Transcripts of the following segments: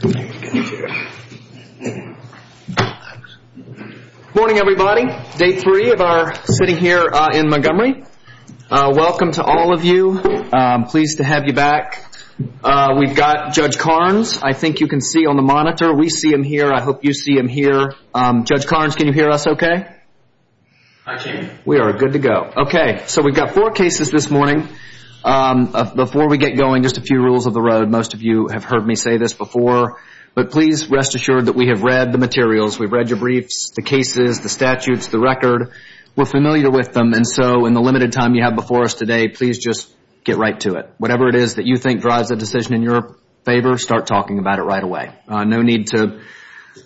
Good morning everybody. Day three of our sitting here in Montgomery. Welcome to all of you. I'm pleased to have you back. We've got Judge Karnes. I think you can see on the monitor. We see him here. I hope you see him here. Judge Karnes, can you hear us okay? We are good to go. Okay, so we've got four cases this morning. Before we get going, just a few rules of the road. Most of you have heard me say this before, but please rest assured that we have read the materials. We've read your briefs, the cases, the statutes, the record. We're familiar with them, and so in the limited time you have before us today, please just get right to it. Whatever it is that you think drives the decision in your favor, start talking about it right away. No need to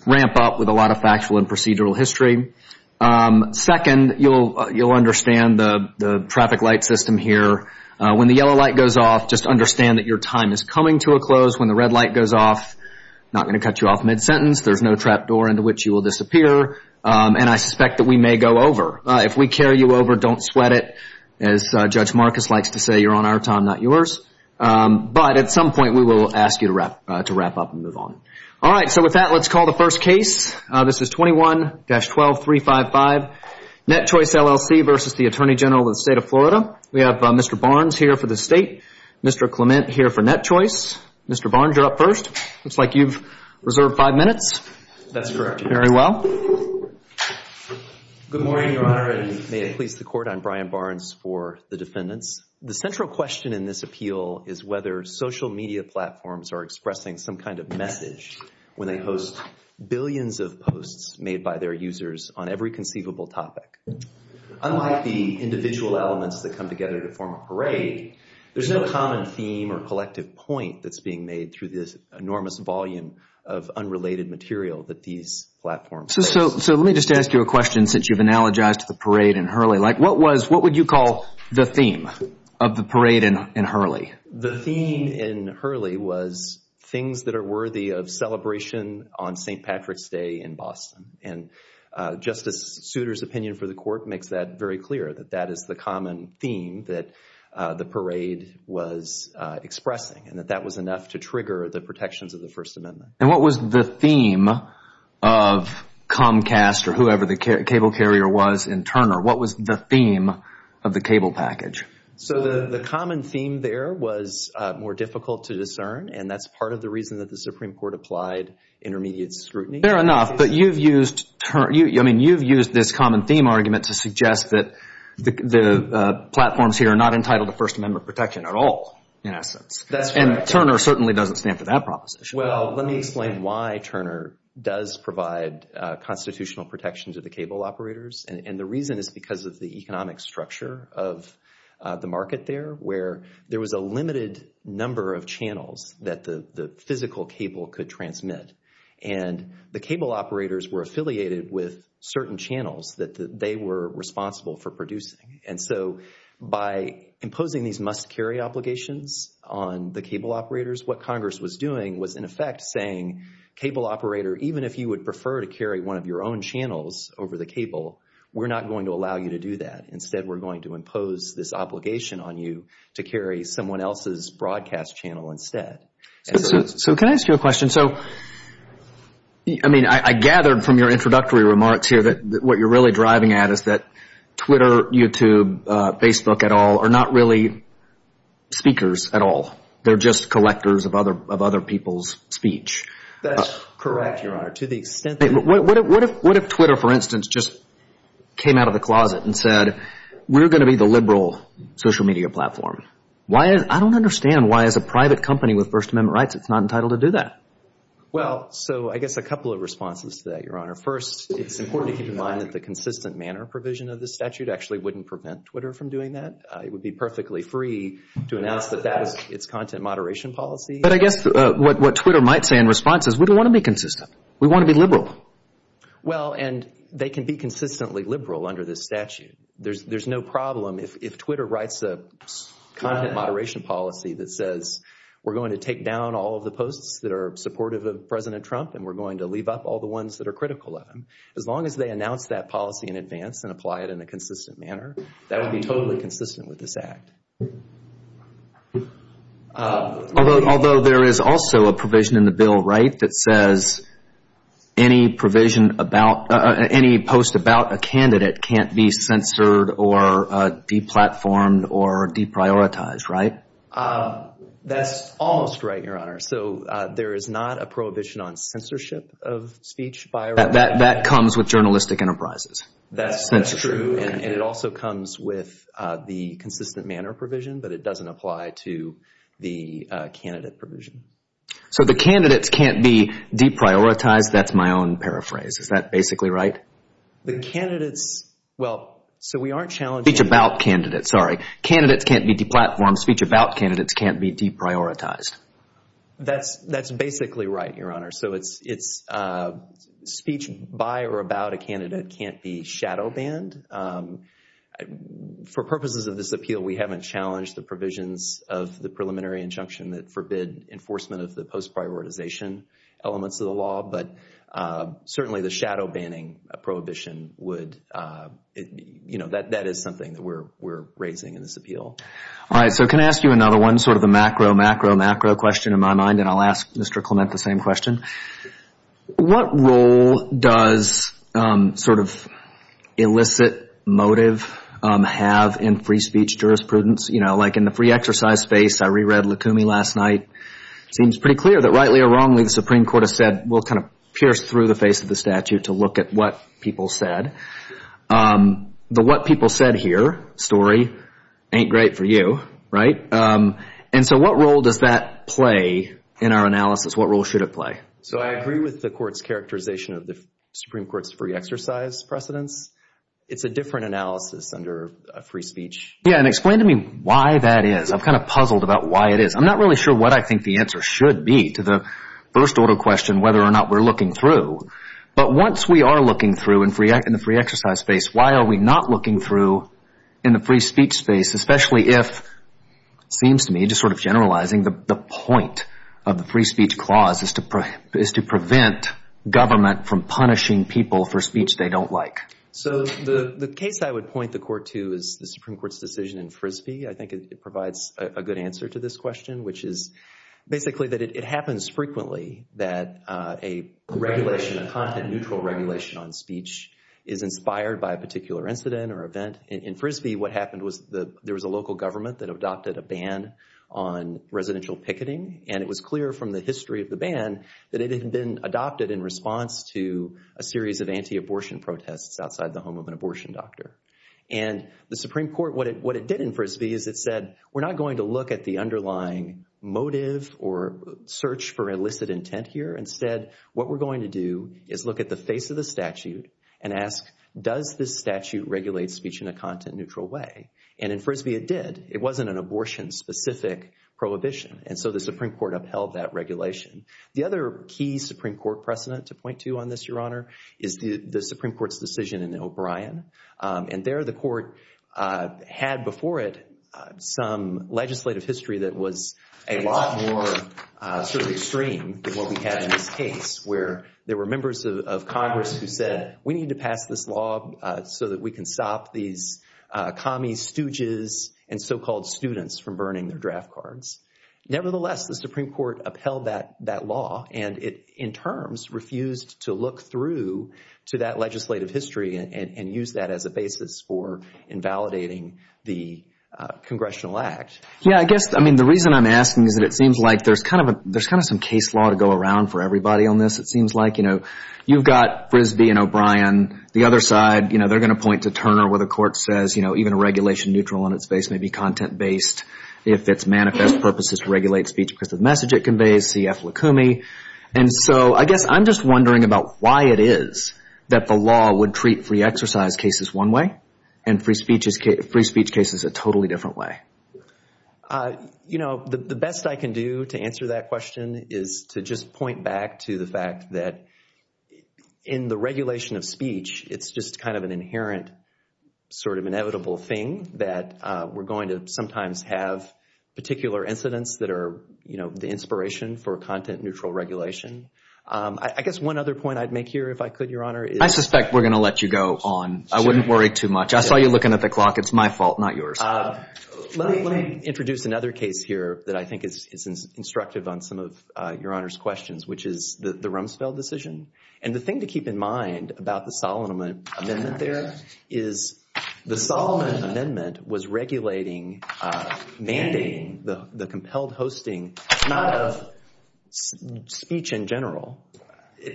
ramp up with a lot of factual and procedural history. Second, you'll understand the traffic light system here. When the yellow light goes off, just understand that your time is coming to a close. When the red light goes off, not going to cut you off mid-sentence. There's no trap door into which you will disappear, and I suspect that we may go over. If we carry you over, don't sweat it. As Judge Marcus likes to say, you're on our time, not yours. But at some point we will ask you to wrap up and move on. All right. So with that, let's call the first case. This is 21-12355, Net Choice, LLC versus the Attorney General of the State of Florida. We have Mr. Barnes here for the State, Mr. Clement here for Net Choice. Mr. Barnes, you're up first. Looks like you've reserved five minutes. That's correct. Very well. Good morning, Your Honor, and may I please support on Brian Barnes for the defendants. The central question in this appeal is whether social media platforms are expressing some kind of message when they post billions of posts made by their users on every conceivable topic. Unlike the individual elements that come together to form a parade, there's no common theme or collective point that's being made through this enormous volume of unrelated material that these platforms have. So let me just ask you a question since you've analogized the parade and Hurley. What would you call the theme of the parade and Hurley? The theme in Hurley was things that are worthy of celebration on St. Patrick's Day in Boston. And Justice Souter's opinion for the court makes that very clear, that that is the common theme that the parade was expressing and that that was enough to trigger the protections of the First Amendment. And what was the theme of Comcast or whoever the cable carrier was in Turner? What was the theme of the cable package? So the common theme there was more difficult to discern, and that's part of the reason that the Supreme Court applied intermediate scrutiny. Fair enough, but you've used this common theme argument to suggest that the platforms here are not entitled to First Amendment protection at all, in essence. And Turner certainly doesn't stand for that proposition. Well, let me explain why Turner does provide constitutional protection to the cable operators. And the reason is because of the economic structure of the market there, where there was a limited number of channels that the physical cable could transmit. And the cable operators were affiliated with certain channels that they were responsible for producing. And so by imposing these must-carry obligations on the cable operators, what Congress was doing was, in effect, saying cable operator, even if you would prefer to carry one of your own channels over the cable, we're not going to allow you to do that. Instead, we're going to impose this obligation on you to carry someone else's broadcast channel instead. So can I ask you a question? So, I mean, I gathered from your introductory remarks here that what you're really driving at is that Twitter, YouTube, Facebook, et al., are not really speakers at all. They're just collectors of other people's speech. That's correct, Your Honor. What if Twitter, for instance, just came out of the closet and said, we're going to be the liberal social media platform? I don't understand why, as a private company with First Amendment rights, it's not entitled to do that. Well, so I guess a couple of responses to that, Your Honor. First, it's important to keep in mind that the consistent manner provision of the statute actually wouldn't prevent Twitter from doing that. It would be perfectly free to announce that that is its content moderation policy. But I guess what Twitter might say in response is we don't want to be consistent. We want to be liberal. Well, and they can be consistently liberal under this statute. There's no problem if Twitter writes a content moderation policy that says we're going to take down all the posts that are supportive of President Trump and we're going to leave up all the ones that are critical of him. As long as they announce that policy in advance and apply it in a consistent manner, that would be totally consistent with this act. Although there is also a provision in the bill, right, that says any post about a candidate can't be censored or deplatformed or deprioritized, right? That's almost right, Your Honor. So there is not a prohibition on censorship of speech by a writer. That comes with journalistic enterprises. That's true, and it also comes with the consistent manner provision. But it doesn't apply to the candidate provision. So the candidate can't be deprioritized. That's my own paraphrase. Is that basically right? The candidates, well, so we aren't challenging... Speech about candidates, sorry. Candidates can't be deplatformed. Speech about candidates can't be deprioritized. That's basically right, Your Honor. So it's speech by or about a candidate can't be shadow banned. For purposes of this appeal, we haven't challenged the provisions of the preliminary injunction that forbid enforcement of the post-prioritization elements of the law, but certainly the shadow banning prohibition would, you know, that is something that we're raising in this appeal. All right, so can I ask you another one? Sort of a macro, macro, macro question in my mind, and I'll ask Mr. Clement the same question. What role does sort of illicit motive have in free speech jurisprudence? You know, like in the free exercise space, I re-read Lacumi last night. It seems pretty clear that rightly or wrongly the Supreme Court has said, we'll kind of pierce through the face of the statute to look at what people said. The what people said here story ain't great for you, right? And so what role does that play in our analysis? What role should it play? So I agree with the court's characterization of the Supreme Court's free exercise precedence. It's a different analysis under free speech. Yeah, and explain to me why that is. I'm kind of puzzled about why it is. I'm not really sure what I think the answer should be to the first order question, whether or not we're looking through. But once we are looking through in the free exercise space, why are we not looking through in the free speech space, especially if it seems to me just sort of generalizing the point of the free speech clause is to prevent government from punishing people for speech they don't like? So the case I would point the court to is the Supreme Court's decision in Frisbee. I think it provides a good answer to this question, which is basically that it happens frequently that a regulation, a content-neutral regulation on speech is inspired by a particular incident or event. In Frisbee, what happened was there was a local government that adopted a ban on residential picketing, and it was clear from the history of the ban that it had been adopted in response to a series of anti-abortion protests outside the home of an abortion doctor. And the Supreme Court, what it did in Frisbee is it said, we're not going to look at the underlying motive or search for illicit intent here. Instead, what we're going to do is look at the face of the statute and ask, does this statute regulate speech in a content-neutral way? And in Frisbee, it did. It wasn't an abortion-specific prohibition. And so the Supreme Court upheld that regulation. The other key Supreme Court precedent to point to on this, Your Honor, is the Supreme Court's decision in O'Brien. And there the court had before it some legislative history that was a lot more sort of extreme than what we had in this case, where there were members of Congress who said, we need to pass this law so that we can stop these commies, stooges, and so-called students from burning their draft cards. Nevertheless, the Supreme Court upheld that law, and it in terms refused to look through to that legislative history and use that as a basis for invalidating the Congressional Act. Yeah, I guess, I mean, the reason I'm asking is that it seems like there's kind of some case law to go around for everybody on this, it seems like. You've got Frisbee and O'Brien. The other side, they're going to point to Turner where the court says, even a regulation-neutral on its face may be content-based if its manifest purpose is to regulate speech because of the message it conveys, C.F. Lukumi. And so I guess I'm just wondering about why it is that the law would treat free exercise cases one way and free speech cases a totally different way. You know, the best I can do to answer that question is to just point back to the fact that in the regulation of speech, it's just kind of an inherent sort of inevitable thing that we're going to sometimes have particular incidents that are the inspiration for content-neutral regulation. I guess one other point I'd make here, if I could, Your Honor, is— I suspect we're going to let you go on. I wouldn't worry too much. I saw you looking at the clock. It's my fault, not yours. Let me introduce another case here that I think is instructive on some of Your Honor's questions, which is the Rumsfeld decision. And the thing to keep in mind about the Solomon Amendment there is the Solomon Amendment was regulating, mandating the compelled hosting, not of speech in general.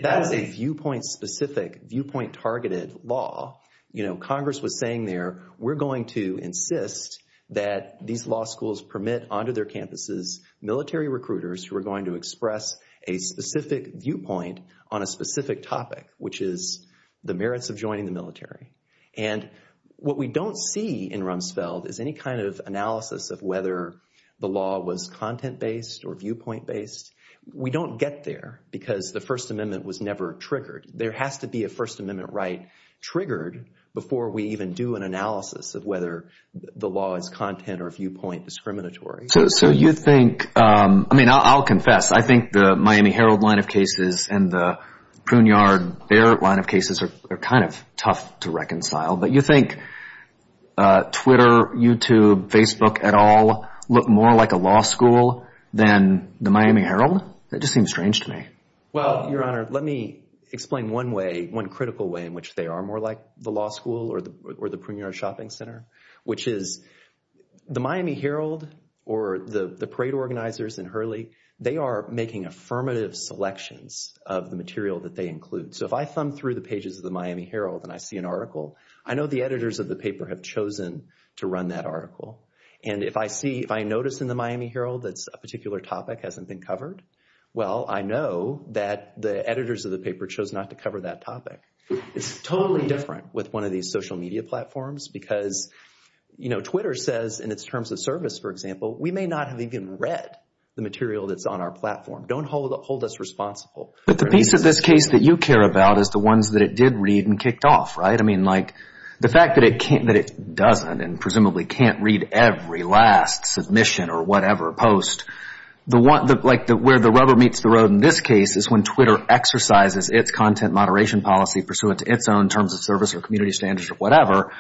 That is a viewpoint-specific, viewpoint-targeted law. Congress was saying there, we're going to insist that these law schools permit onto their campuses military recruiters who are going to express a specific viewpoint on a specific topic, which is the merits of joining the military. And what we don't see in Rumsfeld is any kind of analysis of whether the law was content-based or viewpoint-based. We don't get there because the First Amendment was never triggered. There has to be a First Amendment right triggered before we even do an analysis of whether the law is content- or viewpoint-discriminatory. So you think – I mean, I'll confess. I think the Miami Herald line of cases and the Pruneyard-Barrett line of cases are kind of tough to reconcile. But you think Twitter, YouTube, Facebook et al. look more like a law school than the Miami Herald? That just seems strange to me. Well, Your Honor, let me explain one way, one critical way in which they are more like the law school or the Pruneyard Shopping Center, which is the Miami Herald or the parade organizers in Hurley, they are making affirmative selections of the material that they include. So if I thumb through the pages of the Miami Herald and I see an article, I know the editors of the paper have chosen to run that article. And if I notice in the Miami Herald that a particular topic hasn't been covered, well, I know that the editors of the paper chose not to cover that topic. It's totally different with one of these social media platforms because Twitter says in its terms of service, for example, we may not have even read the material that's on our platform. Don't hold us responsible. But the piece of this case that you care about is the ones that it did read and kicked off, right? I mean, like the fact that it doesn't and presumably can't read every last submission or whatever post. Like where the rubber meets the road in this case is when Twitter exercises its content moderation policy pursuant to its own terms of service or community standards or whatever.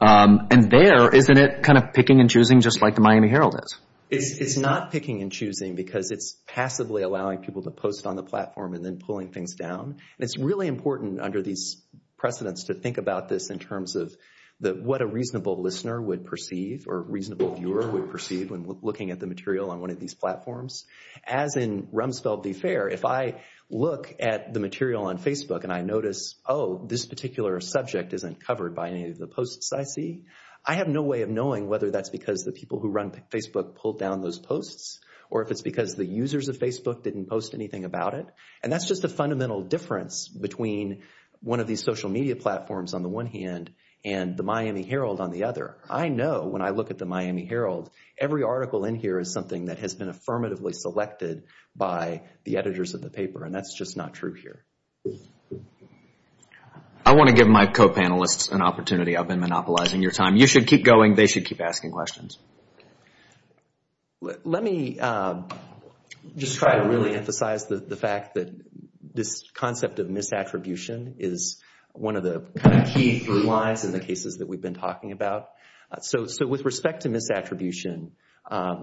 And there, isn't it kind of picking and choosing just like the Miami Herald is? It's not picking and choosing because it's passively allowing people to post on the platform and then pulling things down. It's really important under these precedents to think about this in terms of what a reasonable listener would perceive, or reasonable viewer would perceive when looking at the material on one of these platforms. As in Rumsfeld v. Fair, if I look at the material on Facebook and I notice, oh, this particular subject isn't covered by any of the posts I see, I have no way of knowing whether that's because the people who run Facebook pulled down those posts or if it's because the users of Facebook didn't post anything about it. And that's just a fundamental difference between one of these social media platforms on the one hand and the Miami Herald on the other. I know when I look at the Miami Herald, every article in here is something that has been affirmatively selected by the editors of the paper, and that's just not true here. I want to give my co-panelists an opportunity. I've been monopolizing your time. You should keep going. They should keep asking questions. Let me just try to really emphasize the fact that this concept of misattribution is one of the key blue lines in the cases that we've been talking about. So with respect to misattribution,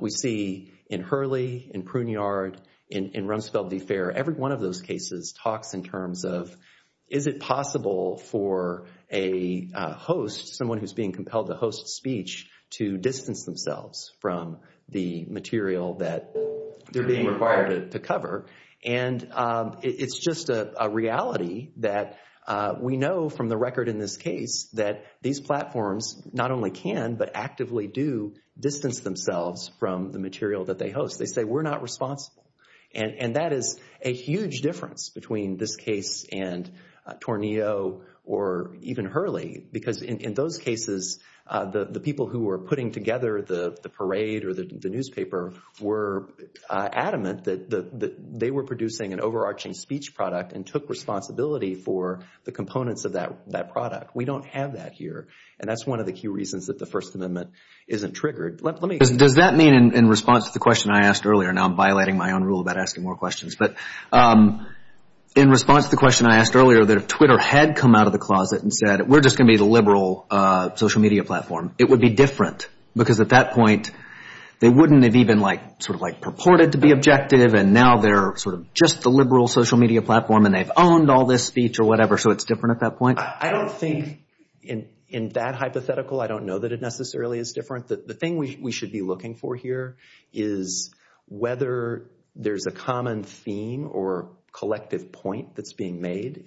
we see in Hurley, in Pruneyard, in Rumsfeld v. Fair, every one of those cases talks in terms of is it possible for a host, someone who's being compelled to host a speech, to distance themselves from the material that they're being required to cover. It's just a reality that we know from the record in this case that these platforms not only can but actively do distance themselves from the material that they host. They say we're not responsible. That is a huge difference between this case and Tornillo or even Hurley because in those cases, the people who were putting together the parade or the newspaper were adamant that they were producing an overarching speech product and took responsibility for the components of that product. We don't have that here. That's one of the key reasons that the First Amendment isn't triggered. Does that mean in response to the question I asked earlier, now I'm violating my own rule about asking more questions, but in response to the question I asked earlier that if Twitter had come out of the closet and said we're just going to be the liberal social media platform, it would be different because at that point they wouldn't have even purported to be objective and now they're just the liberal social media platform and they've owned all this speech or whatever, so it's different at that point? I don't think in that hypothetical, I don't know that it necessarily is different. The thing we should be looking for here is whether there's a common theme or collective point that's being made.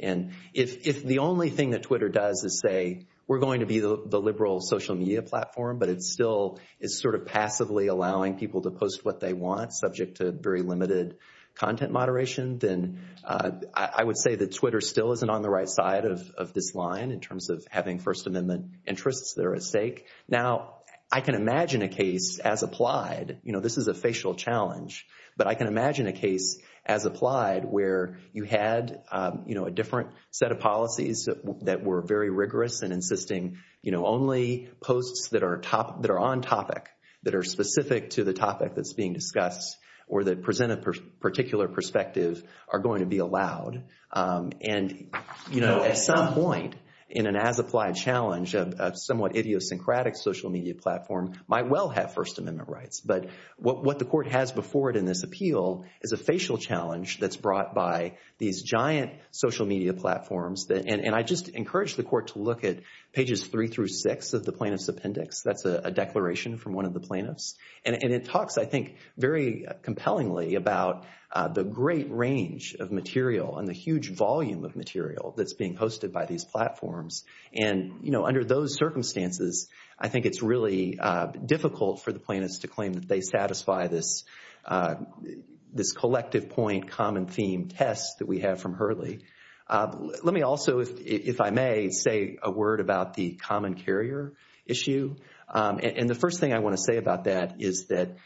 If the only thing that Twitter does is say we're going to be the liberal social media platform, but it's still sort of passively allowing people to post what they want, subject to very limited content moderations, then I would say that Twitter still isn't on the right side of this line in terms of having First Amendment interests that are at stake. Now, I can imagine a case as applied. This is a facial challenge, but I can imagine a case as applied where you had a different set of policies that were very rigorous and insisting only posts that are on topic, that are specific to the topic that's being discussed or that present a particular perspective are going to be allowed. At some point in an as-applied challenge, a somewhat idiosyncratic social media platform might well have First Amendment rights, but what the court has before it in this appeal is a facial challenge that's brought by these giant social media platforms. I just encourage the court to look at pages 3 through 6 of the plaintiff's appendix. That's a declaration from one of the plaintiffs. It talks, I think, very compellingly about the great range of material and the huge volume of material that's being posted by these platforms. Under those circumstances, I think it's really difficult for the plaintiffs to claim that they satisfy this collective point, common theme test that we have from Hurley. Let me also, if I may, say a word about the common carrier issue. The first thing I want to say about that is that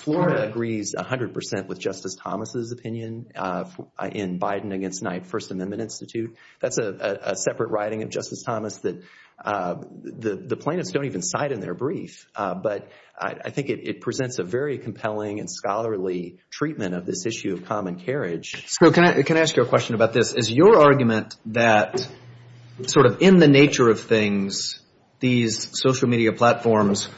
Flora agrees 100% with Justice Thomas' opinion in Biden against Knight First Amendment Institute. That's a separate writing of Justice Thomas that the plaintiffs don't even cite in their brief, but I think it presents a very compelling and scholarly treatment of this issue of common carriage. Can I ask you a question about this? Is your argument that in the nature of things, these social media platforms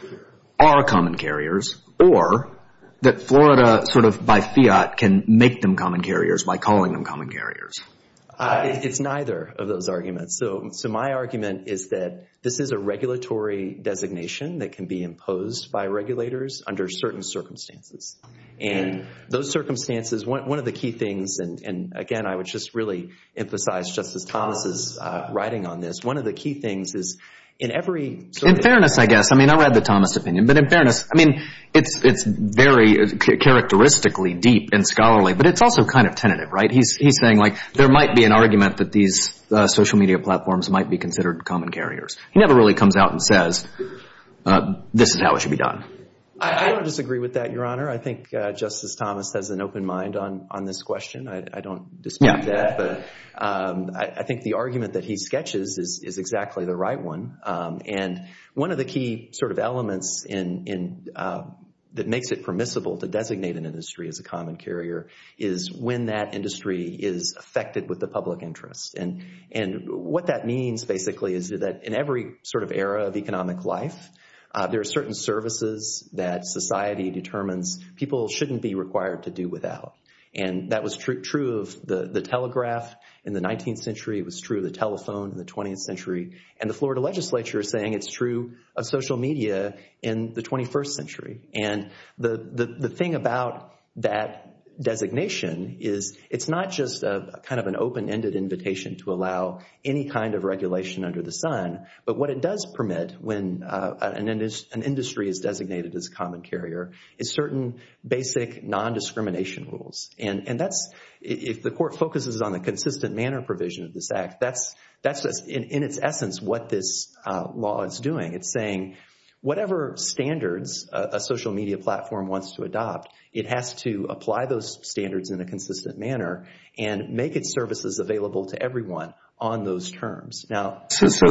are common carriers, or that Florida, by fiat, can make them common carriers by calling them common carriers? It's neither of those arguments. My argument is that this is a regulatory designation that can be imposed by regulators under certain circumstances. Those circumstances, one of the key things, and again, I would just really emphasize Justice Thomas' writing on this. One of the key things is in every- In fairness, I guess. I mean, I'll add the Thomas opinion, but in fairness, it's very characteristically deep and scholarly, but it's also kind of tentative. He's saying there might be an argument that these social media platforms might be considered common carriers. He never really comes out and says, this is how it should be done. I don't disagree with that, Your Honor. I think Justice Thomas has an open mind on this question. I don't dispute that, but I think the argument that he sketches is exactly the right one, and one of the key sort of elements that makes it permissible to designate an industry as a common carrier is when that industry is affected with the public interest, and what that means, basically, is that in every sort of era of economic life, there are certain services that society determines people shouldn't be required to do without, and that was true of the telegraph in the 19th century. It was true of the telephone in the 20th century, and the Florida legislature is saying it's true of social media in the 21st century, and the thing about that designation is it's not just kind of an open-ended invitation to allow any kind of regulation under the sun, but what it does permit when an industry is designated as a common carrier is certain basic nondiscrimination rules, and if the court focuses on the consistent manner provision of this act, that's in its essence what this law is doing. It's saying whatever standards a social media platform wants to adopt, it has to apply those standards in a consistent manner and make its services available to everyone on those terms. So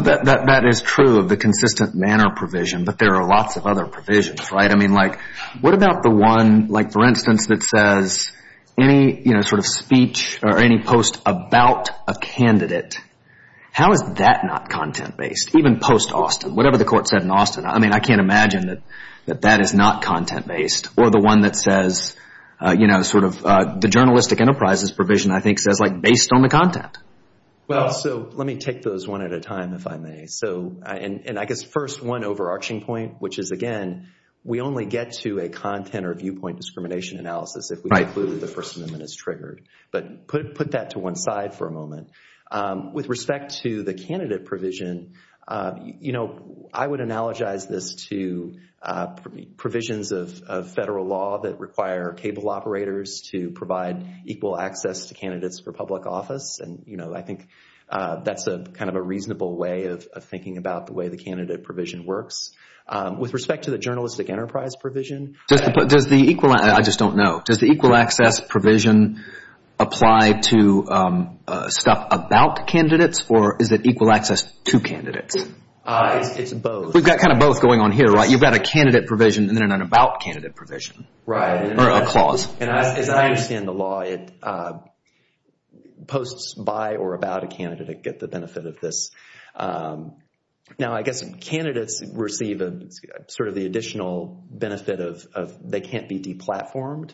that is true of the consistent manner provision, but there are lots of other provisions, right? What about the one, for instance, that says any sort of speech or any post about a candidate, how is that not content-based? Even post-Austin, whatever the court said in Austin, I mean I can't imagine that that is not content-based, or the one that says sort of the journalistic enterprises provision I think says based on the content. Well, so let me take those one at a time if I may, and I guess first one overarching point, which is again, we only get to a content or viewpoint discrimination analysis if we include the person who is triggered. But put that to one side for a moment. With respect to the candidate provision, I would analogize this to provisions of federal law that require table operators to provide equal access to candidates for public office, and I think that's kind of a reasonable way of thinking about the way the candidate provision works. With respect to the journalistic enterprise provision, I just don't know. Does the equal access provision apply to stuff about candidates, or is it equal access to candidates? It's both. We've got kind of both going on here, right? You've got a candidate provision and then an about candidate provision. Right. Or a clause. As I understand the law, it posts by or about a candidate to get the benefit of this. Now, I guess candidates receive sort of the additional benefit of they can't be deplatformed,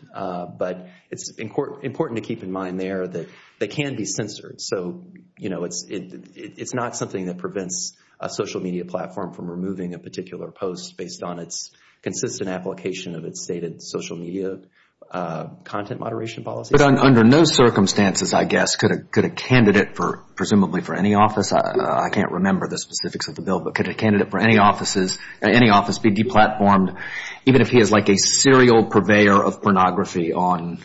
but it's important to keep in mind there that they can be censored, so it's not something that prevents a social media platform from removing a particular post based on its consistent application of its stated social media content moderation policy. But under no circumstances, I guess, could a candidate, presumably for any office, I can't remember the specifics of the bill, but could a candidate for any office be deplatformed even if he is like a serial purveyor of pornography on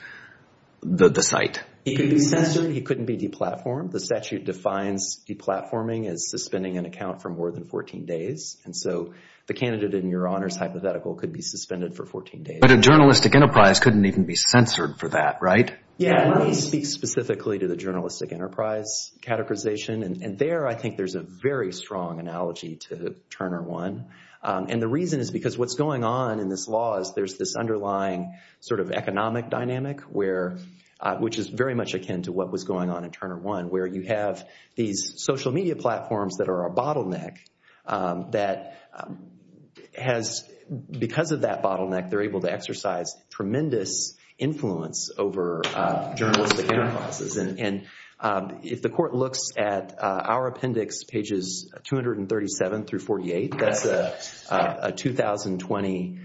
the site? He could be censored. He couldn't be deplatformed. The statute defines deplatforming as suspending an account for more than 14 days, and so the candidate in your honors hypothetical could be suspended for 14 days. But a journalistic enterprise couldn't even be censored for that, right? Yeah. I wouldn't speak specifically to the journalistic enterprise categorization, and there I think there's a very strong analogy to Turner One, and the reason is because what's going on in this law is there's this underlying sort of economic dynamic, which is very much akin to what was going on in Turner One, where you have these social media platforms that are a bottleneck that has, because of that bottleneck, they're able to exercise tremendous influence over journalistic enterprises, and if the court looks at our appendix, pages 237 through 48, that's a 2020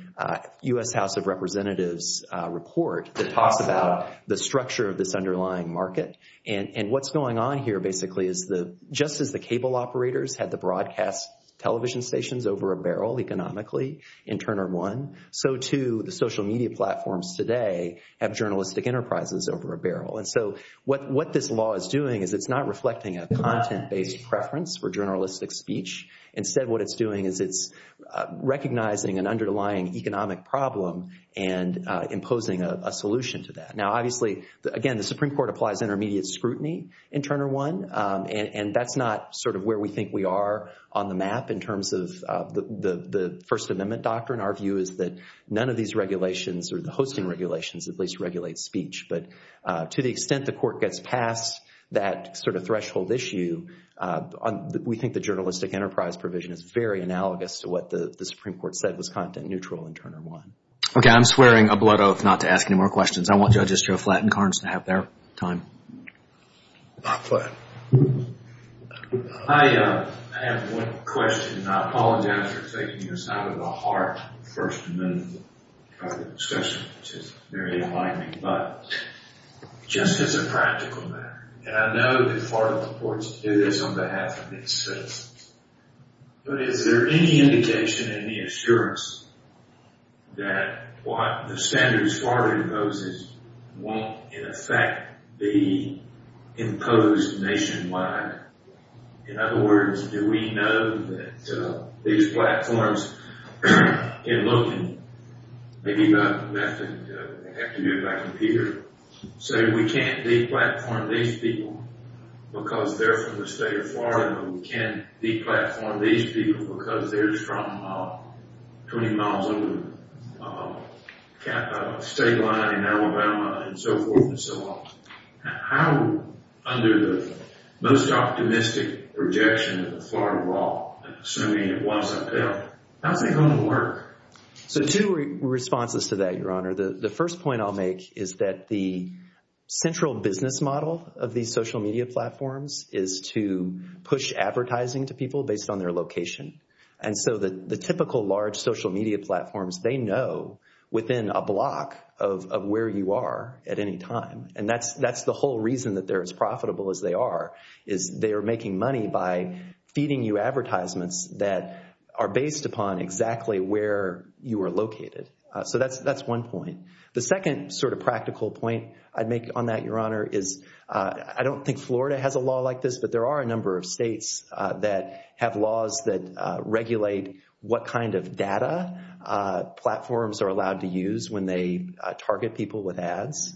U.S. House of Representatives report that talks about the structure of this underlying market, and what's going on here basically is just as the cable operators had to broadcast television stations over a barrel economically in Turner One, so too the social media platforms today have journalistic enterprises over a barrel, and so what this law is doing is it's not reflecting a content-based preference for journalistic speech. Instead, what it's doing is it's recognizing an underlying economic problem and imposing a solution to that. Now, obviously, again, the Supreme Court applies intermediate scrutiny in Turner One, and that's not sort of where we think we are on the map in terms of the First Amendment doctrine. Our view is that none of these regulations or the hosting regulations at least regulate speech, but to the extent the court gets past that sort of threshold issue, we think the journalistic enterprise provision is very analogous to what the Supreme Court said was content-neutral in Turner One. Okay, I'm swearing a blood oath not to ask any more questions. I want judges to have flattened cards and have their time. Go ahead. I have one question, and I apologize for taking this out of the heart of the First Amendment discussion, which is very enlightening, but just as a practical matter, and I know that part of the court's decision is something that has to be settled, but is there any indication, any assurance that what the standards Florida imposes won't, in effect, be imposed nationwide? In other words, do we know that these platforms, in looking, maybe not have to do it by computer, so we can't de-platform these people because they're from the state of Florida, and we can't de-platform these people because they're from 20 miles over the state line in Alabama and so forth and so on? How, under the most optimistic projection of the Florida law, assuming it wasn't there, how are they going to work? So two responses to that, Your Honor. The first point I'll make is that the central business model of these social media platforms is to push advertising to people based on their location, and so the typical large social media platforms, they know within a block of where you are at any time, and that's the whole reason that they're as profitable as they are, is they are making money by feeding you advertisements that are based upon exactly where you are located. So that's one point. The second sort of practical point I'd make on that, Your Honor, is I don't think Florida has a law like this, but there are a number of states that have laws that regulate what kind of data platforms are allowed to use when they target people with ads.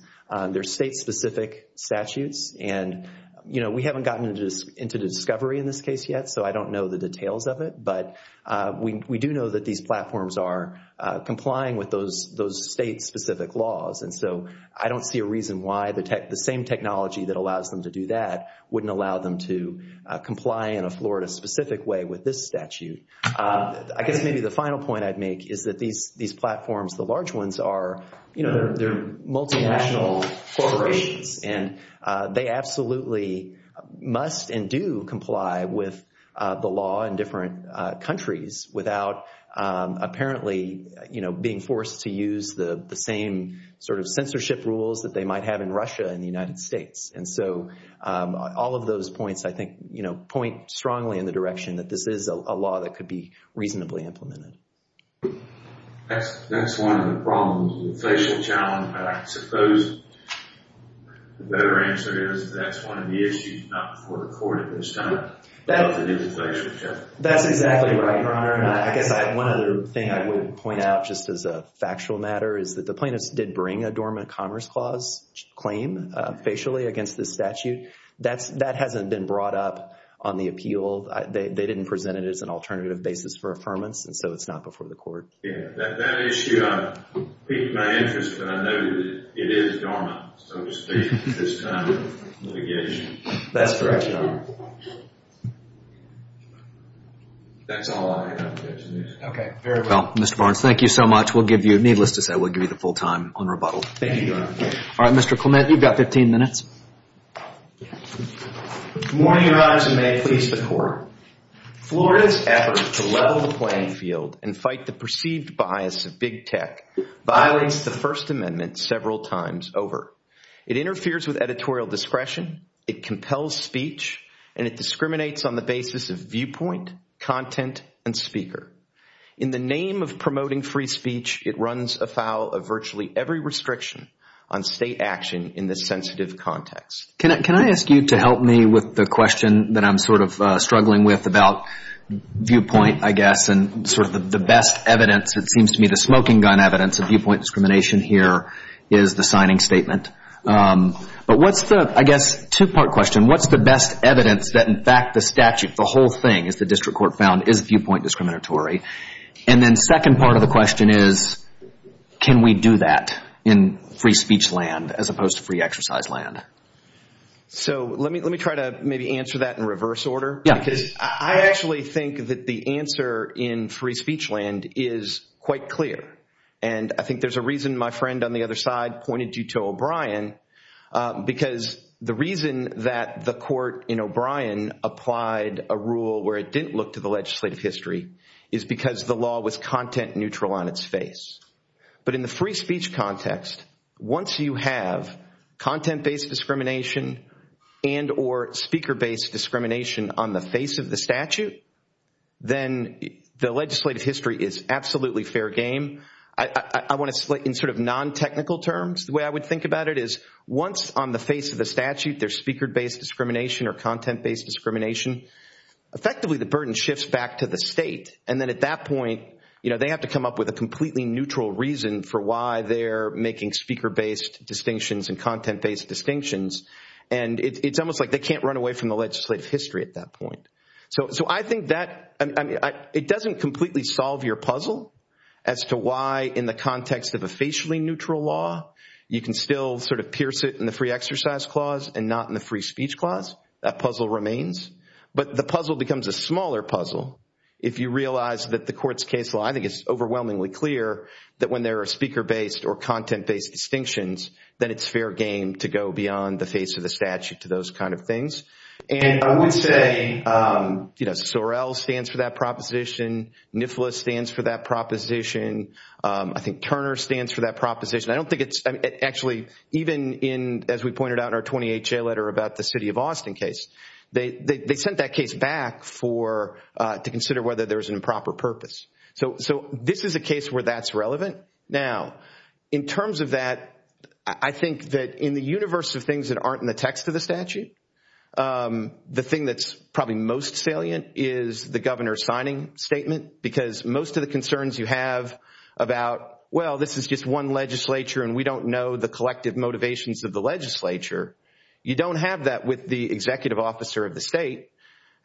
They're state-specific statutes, and we haven't gotten into discovery in this case yet, so I don't know the details of it, but we do know that these platforms are complying with those state-specific laws, and so I don't see a reason why the same technology that allows them to do that wouldn't allow them to comply in a Florida-specific way with this statute. I guess maybe the final point I'd make is that these platforms, the large ones, they're multinational corporations, and they absolutely must and do comply with the law in different countries without apparently being forced to use the same sort of censorship rules that they might have in Russia and the United States, and so all of those points, I think, point strongly in the direction that this is a law that could be reasonably implemented. That's one of the problems with the facial challenge, but I suppose the better answer is that that's one of the issues not before the court at this time. That's exactly right, Your Honor, and I guess one of the things I would point out just as a factual matter is that the plaintiff did bring a dormant commerce clause claim facially against this statute. That hasn't been brought up on the appeal. They didn't present it as an alternative basis for affirmance, and so it's not before the court. Yeah, that issue, in my interest, I know it is dormant, so to speak, at this time of litigation. That's correct, Your Honor. That's all I have to mention. Okay, very well, Mr. Barnes, thank you so much. Needless to say, we'll give you the full time on rebuttal. Thank you, Your Honor. All right, Mr. Clement, you've got 15 minutes. Good morning, Your Honor, and may it please the court. Florida's effort to level the playing field and fight the perceived bias of big tech violates the First Amendment several times over. It interferes with editorial discretion, it compels speech, and it discriminates on the basis of viewpoint, content, and speaker. In the name of promoting free speech, it runs afoul of virtually every restriction on state action in this sensitive context. Can I ask you to help me with the question that I'm sort of struggling with about viewpoint, I guess, and sort of the best evidence, it seems to me, the smoking gun evidence of viewpoint discrimination here is the signing statement. But what's the, I guess, two-part question. What's the best evidence that, in fact, the statute, the whole thing, as the district court found, is viewpoint discriminatory? And then the second part of the question is, can we do that in free speech land as opposed to free exercise land? So let me try to maybe answer that in reverse order. I actually think that the answer in free speech land is quite clear, and I think there's a reason my friend on the other side pointed you to O'Brien, because the reason that the court in O'Brien applied a rule where it didn't look to the legislative history is because the law was content-neutral on its face. But in the free speech context, once you have content-based discrimination and or speaker-based discrimination on the face of the statute, then the legislative history is absolutely fair game. I want to, in sort of non-technical terms, the way I would think about it is, once on the face of the statute there's speaker-based discrimination or content-based discrimination, effectively the burden shifts back to the state, and then at that point they have to come up with a completely neutral reason for why they're making speaker-based distinctions and content-based distinctions, and it's almost like they can't run away from the legislative history at that point. So I think that it doesn't completely solve your puzzle as to why in the context of a facially neutral law you can still sort of pierce it in the free exercise clause and not in the free speech clause. That puzzle remains, but the puzzle becomes a smaller puzzle if you realize that the court's case law, I think it's overwhelmingly clear, that when there are speaker-based or content-based distinctions, that it's fair game to go beyond the face of the statute to those kind of things. And I would say, you know, Sorrell stands for that proposition. Niflis stands for that proposition. I think Turner stands for that proposition. I don't think it's actually even in, as we pointed out in our 20HA letter about the city of Austin case, they sent that case back to consider whether there was an improper purpose. So this is a case where that's relevant. Now, in terms of that, I think that in the universe of things that aren't in the text of the statute, the thing that's probably most salient is the governor's signing statement because most of the concerns you have about, well, this is just one legislature and we don't know the collective motivations of the legislature, you don't have that with the executive officer of the state.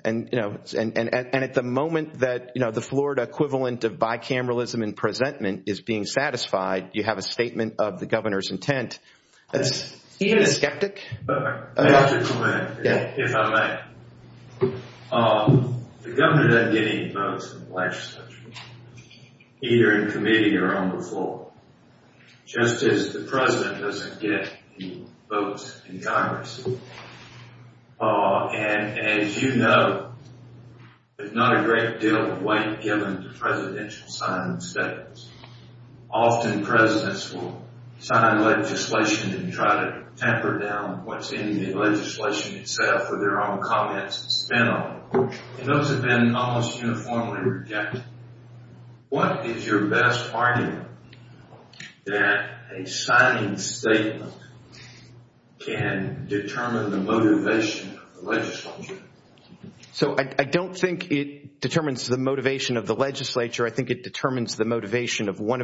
And, you know, and at the moment that, you know, the Florida equivalent of bicameralism in presentment is being satisfied, you have a statement of the governor's intent. He is a skeptic. So I don't think it determines the motivation of the legislature. I think it determines the motivation of one of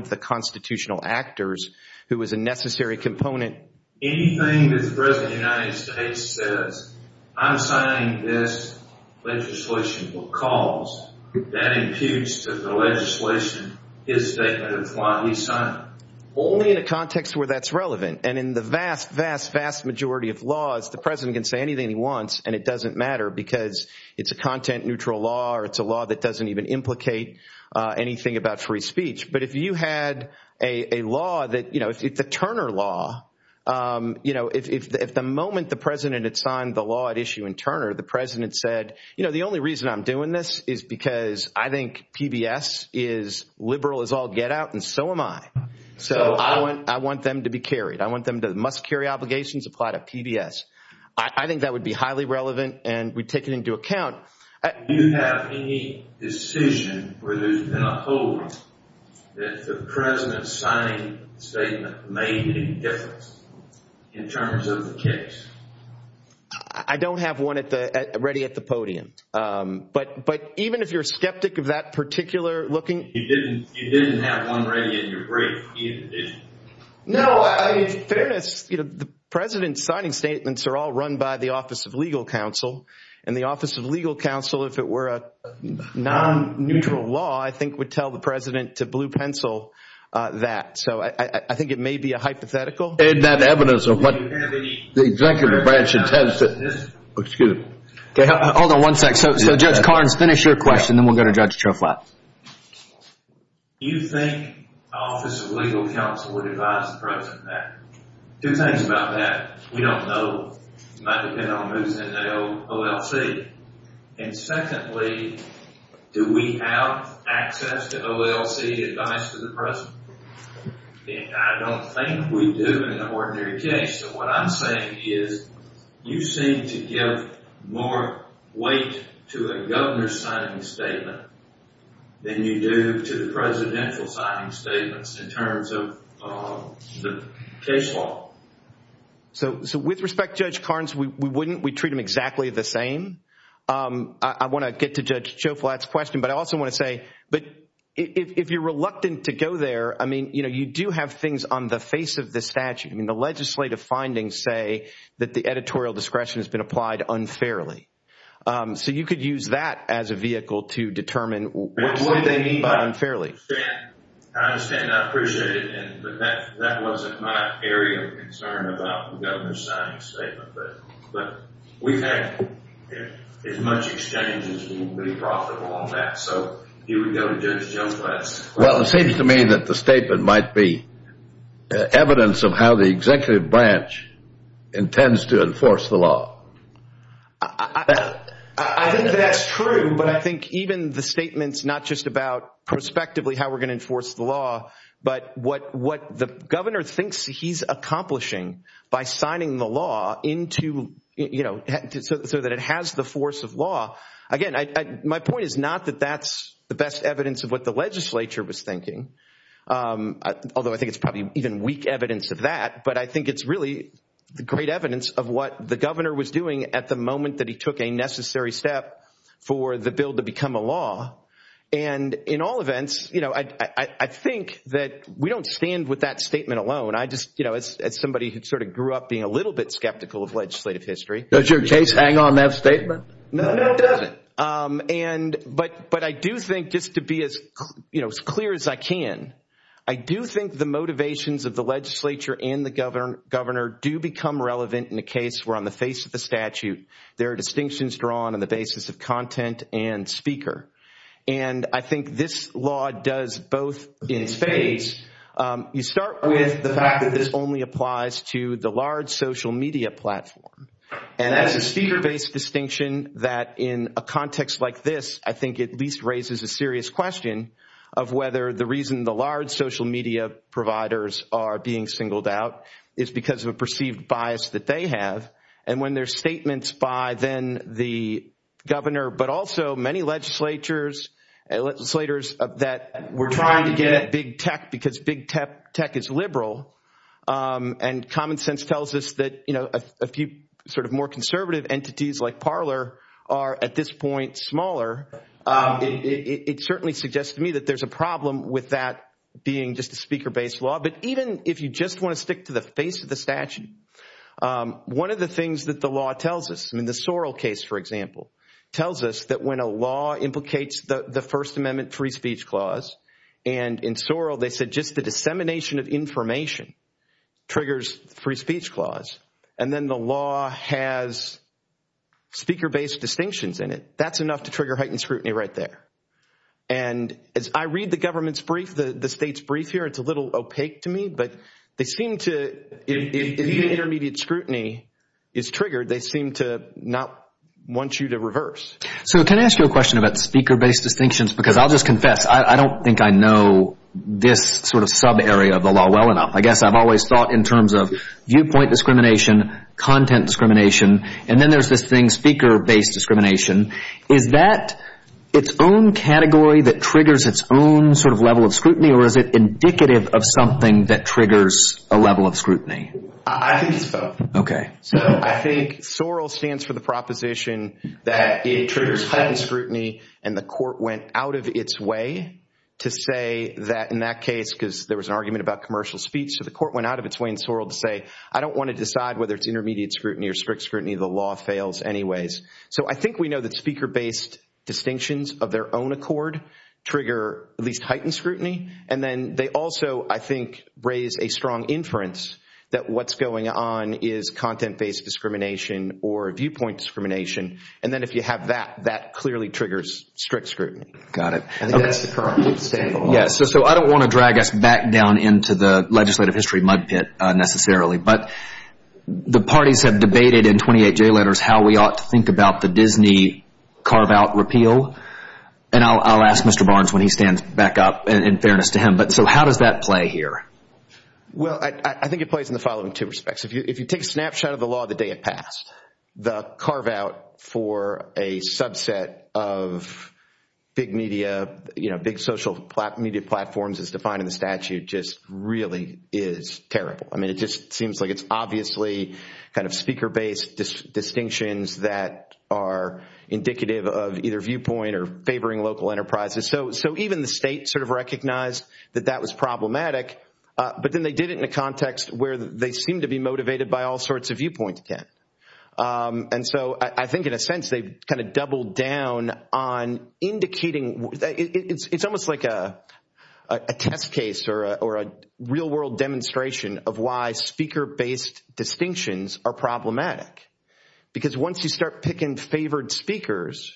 the constitutional actors who is a necessary component. Only in a context where that's relevant. And in the vast, vast, vast majority of laws, the president can say anything he wants and it doesn't matter because it's a content neutral law or it's a law that doesn't even implicate anything about free speech. But if you had a law that, you know, it's a Turner law, you know, at the moment the president had signed the law at issue in Turner, the president said, you know, the only reason I'm doing this is because I think PBS is liberal as all get out and so am I. So I want them to be carried. I want them to must carry obligations applied at PBS. I think that would be highly relevant and we take it into account. The president's signing statement made any difference in terms of the case? I don't have one ready at the podium. But even if you're a skeptic of that particular looking... You didn't have one ready in your brief, either, did you? No, in fairness, the president's signing statements are all run by the Office of Legal Counsel and the Office of Legal Counsel, if it were a non-neutral law, I think would tell the president to blue pencil that. So I think it may be a hypothetical. Is that evidence of what the executive branch intends? Excuse me. Hold on one sec. So Judge Carnes, finish your question and then we'll go to Judge Choklat. You think the Office of Legal Counsel would advise the president of that? Two things about that. We don't know. It might depend on who's in the OLC. And secondly, do we have access to OLC advice to the president? I don't think we do in an ordinary case. What I'm saying is you seem to give more weight to a governor's signing statement than you do to the presidential signing statements in terms of the case law. So with respect, Judge Carnes, we wouldn't. We treat them exactly the same. I want to get to Judge Choklat's question, but I also want to say, if you're reluctant to go there, I mean, you do have things on the face of the statute. I mean, the legislative findings say that the editorial discretion has been applied unfairly. So you could use that as a vehicle to determine what do they mean by unfairly. I understand that. I appreciate it. But that wasn't my area of concern about the governor's signing statement. But we've had as much exchange as we've brought them all back. So you would go to Judge Choklat's question. Well, it seems to me that the statement might be evidence of how the executive branch intends to enforce the law. I think that's true. But I think even the statements not just about prospectively how we're going to enforce the law, but what the governor thinks he's accomplishing by signing the law into, you know, so that it has the force of law. Again, my point is not that that's the best evidence of what the legislature was thinking, although I think it's probably even weak evidence of that. But I think it's really great evidence of what the governor was doing at the moment that he took a necessary step for the bill to become a law. And in all events, you know, I think that we don't stand with that statement alone. It's somebody who sort of grew up being a little bit skeptical of legislative history. Does your case hang on that statement? No, it doesn't. But I do think, just to be as clear as I can, I do think the motivations of the legislature and the governor do become relevant in a case where, on the face of the statute, there are distinctions drawn on the basis of content and speaker. And I think this law does both in phase. You start with the fact that this only applies to the large social media platform. And that's a speaker-based distinction that, in a context like this, I think at least raises a serious question of whether the reason the large social media providers are being singled out is because of a perceived bias that they have. And when there's statements by then the governor, but also many legislators, that we're trying to get big tech because big tech is liberal, and common sense tells us that, you know, a few sort of more conservative entities like Parler are, at this point, smaller, it certainly suggests to me that there's a problem with that being just a speaker-based law. But even if you just want to stick to the face of the statute, one of the things that the law tells us, in the Sorrell case, for example, tells us that when a law implicates the First Amendment free speech clause, and in Sorrell they said just the dissemination of information triggers free speech clause, and then the law has speaker-based distinctions in it, that's enough to trigger heightened scrutiny right there. And I read the government's brief, the state's brief here. It's a little opaque to me, but they seem to, if the intermediate scrutiny is triggered, they seem to not want you to reverse. So can I ask you a question about the speaker-based distinctions? Because I'll just confess, I don't think I know this sort of subarea of the law well enough. I guess I've always thought in terms of viewpoint discrimination, content discrimination, and then there's this thing, speaker-based discrimination. Is that its own category that triggers its own sort of level of scrutiny, or is it indicative of something that triggers a level of scrutiny? I think it's both. Okay. So I think Sorrell stands for the proposition that it triggers heightened scrutiny, and the court went out of its way to say that in that case, because there was an argument about commercial speech, so the court went out of its way in Sorrell to say, I don't want to decide whether it's intermediate scrutiny or strict scrutiny. The law fails anyways. So I think we know that speaker-based distinctions of their own accord trigger at least heightened scrutiny, and then they also, I think, raise a strong inference that what's going on is content-based discrimination or viewpoint discrimination. And then if you have that, that clearly triggers strict scrutiny. Got it. So I don't want to drag us back down into the legislative history mud pit necessarily, but the parties have debated in 28-J letters how we ought to think about the Disney carve-out repeal, and I'll ask Mr. Barnes when he stands back up in fairness to him. So how does that play here? Well, I think it plays in the following two respects. If you take a snapshot of the law the day it passed, the carve-out for a subset of big media, big social media platforms as defined in the statute just really is terrible. I mean, it just seems like it's obviously kind of speaker-based distinctions that are indicative of either viewpoint or favoring local enterprises. So even the state sort of recognized that that was problematic, but then they did it in a context where they seemed to be motivated by all sorts of viewpoints again. And so I think in a sense they've kind of doubled down on indicating. It's almost like a text case or a real-world demonstration of why speaker-based distinctions are problematic, because once you start picking favored speakers,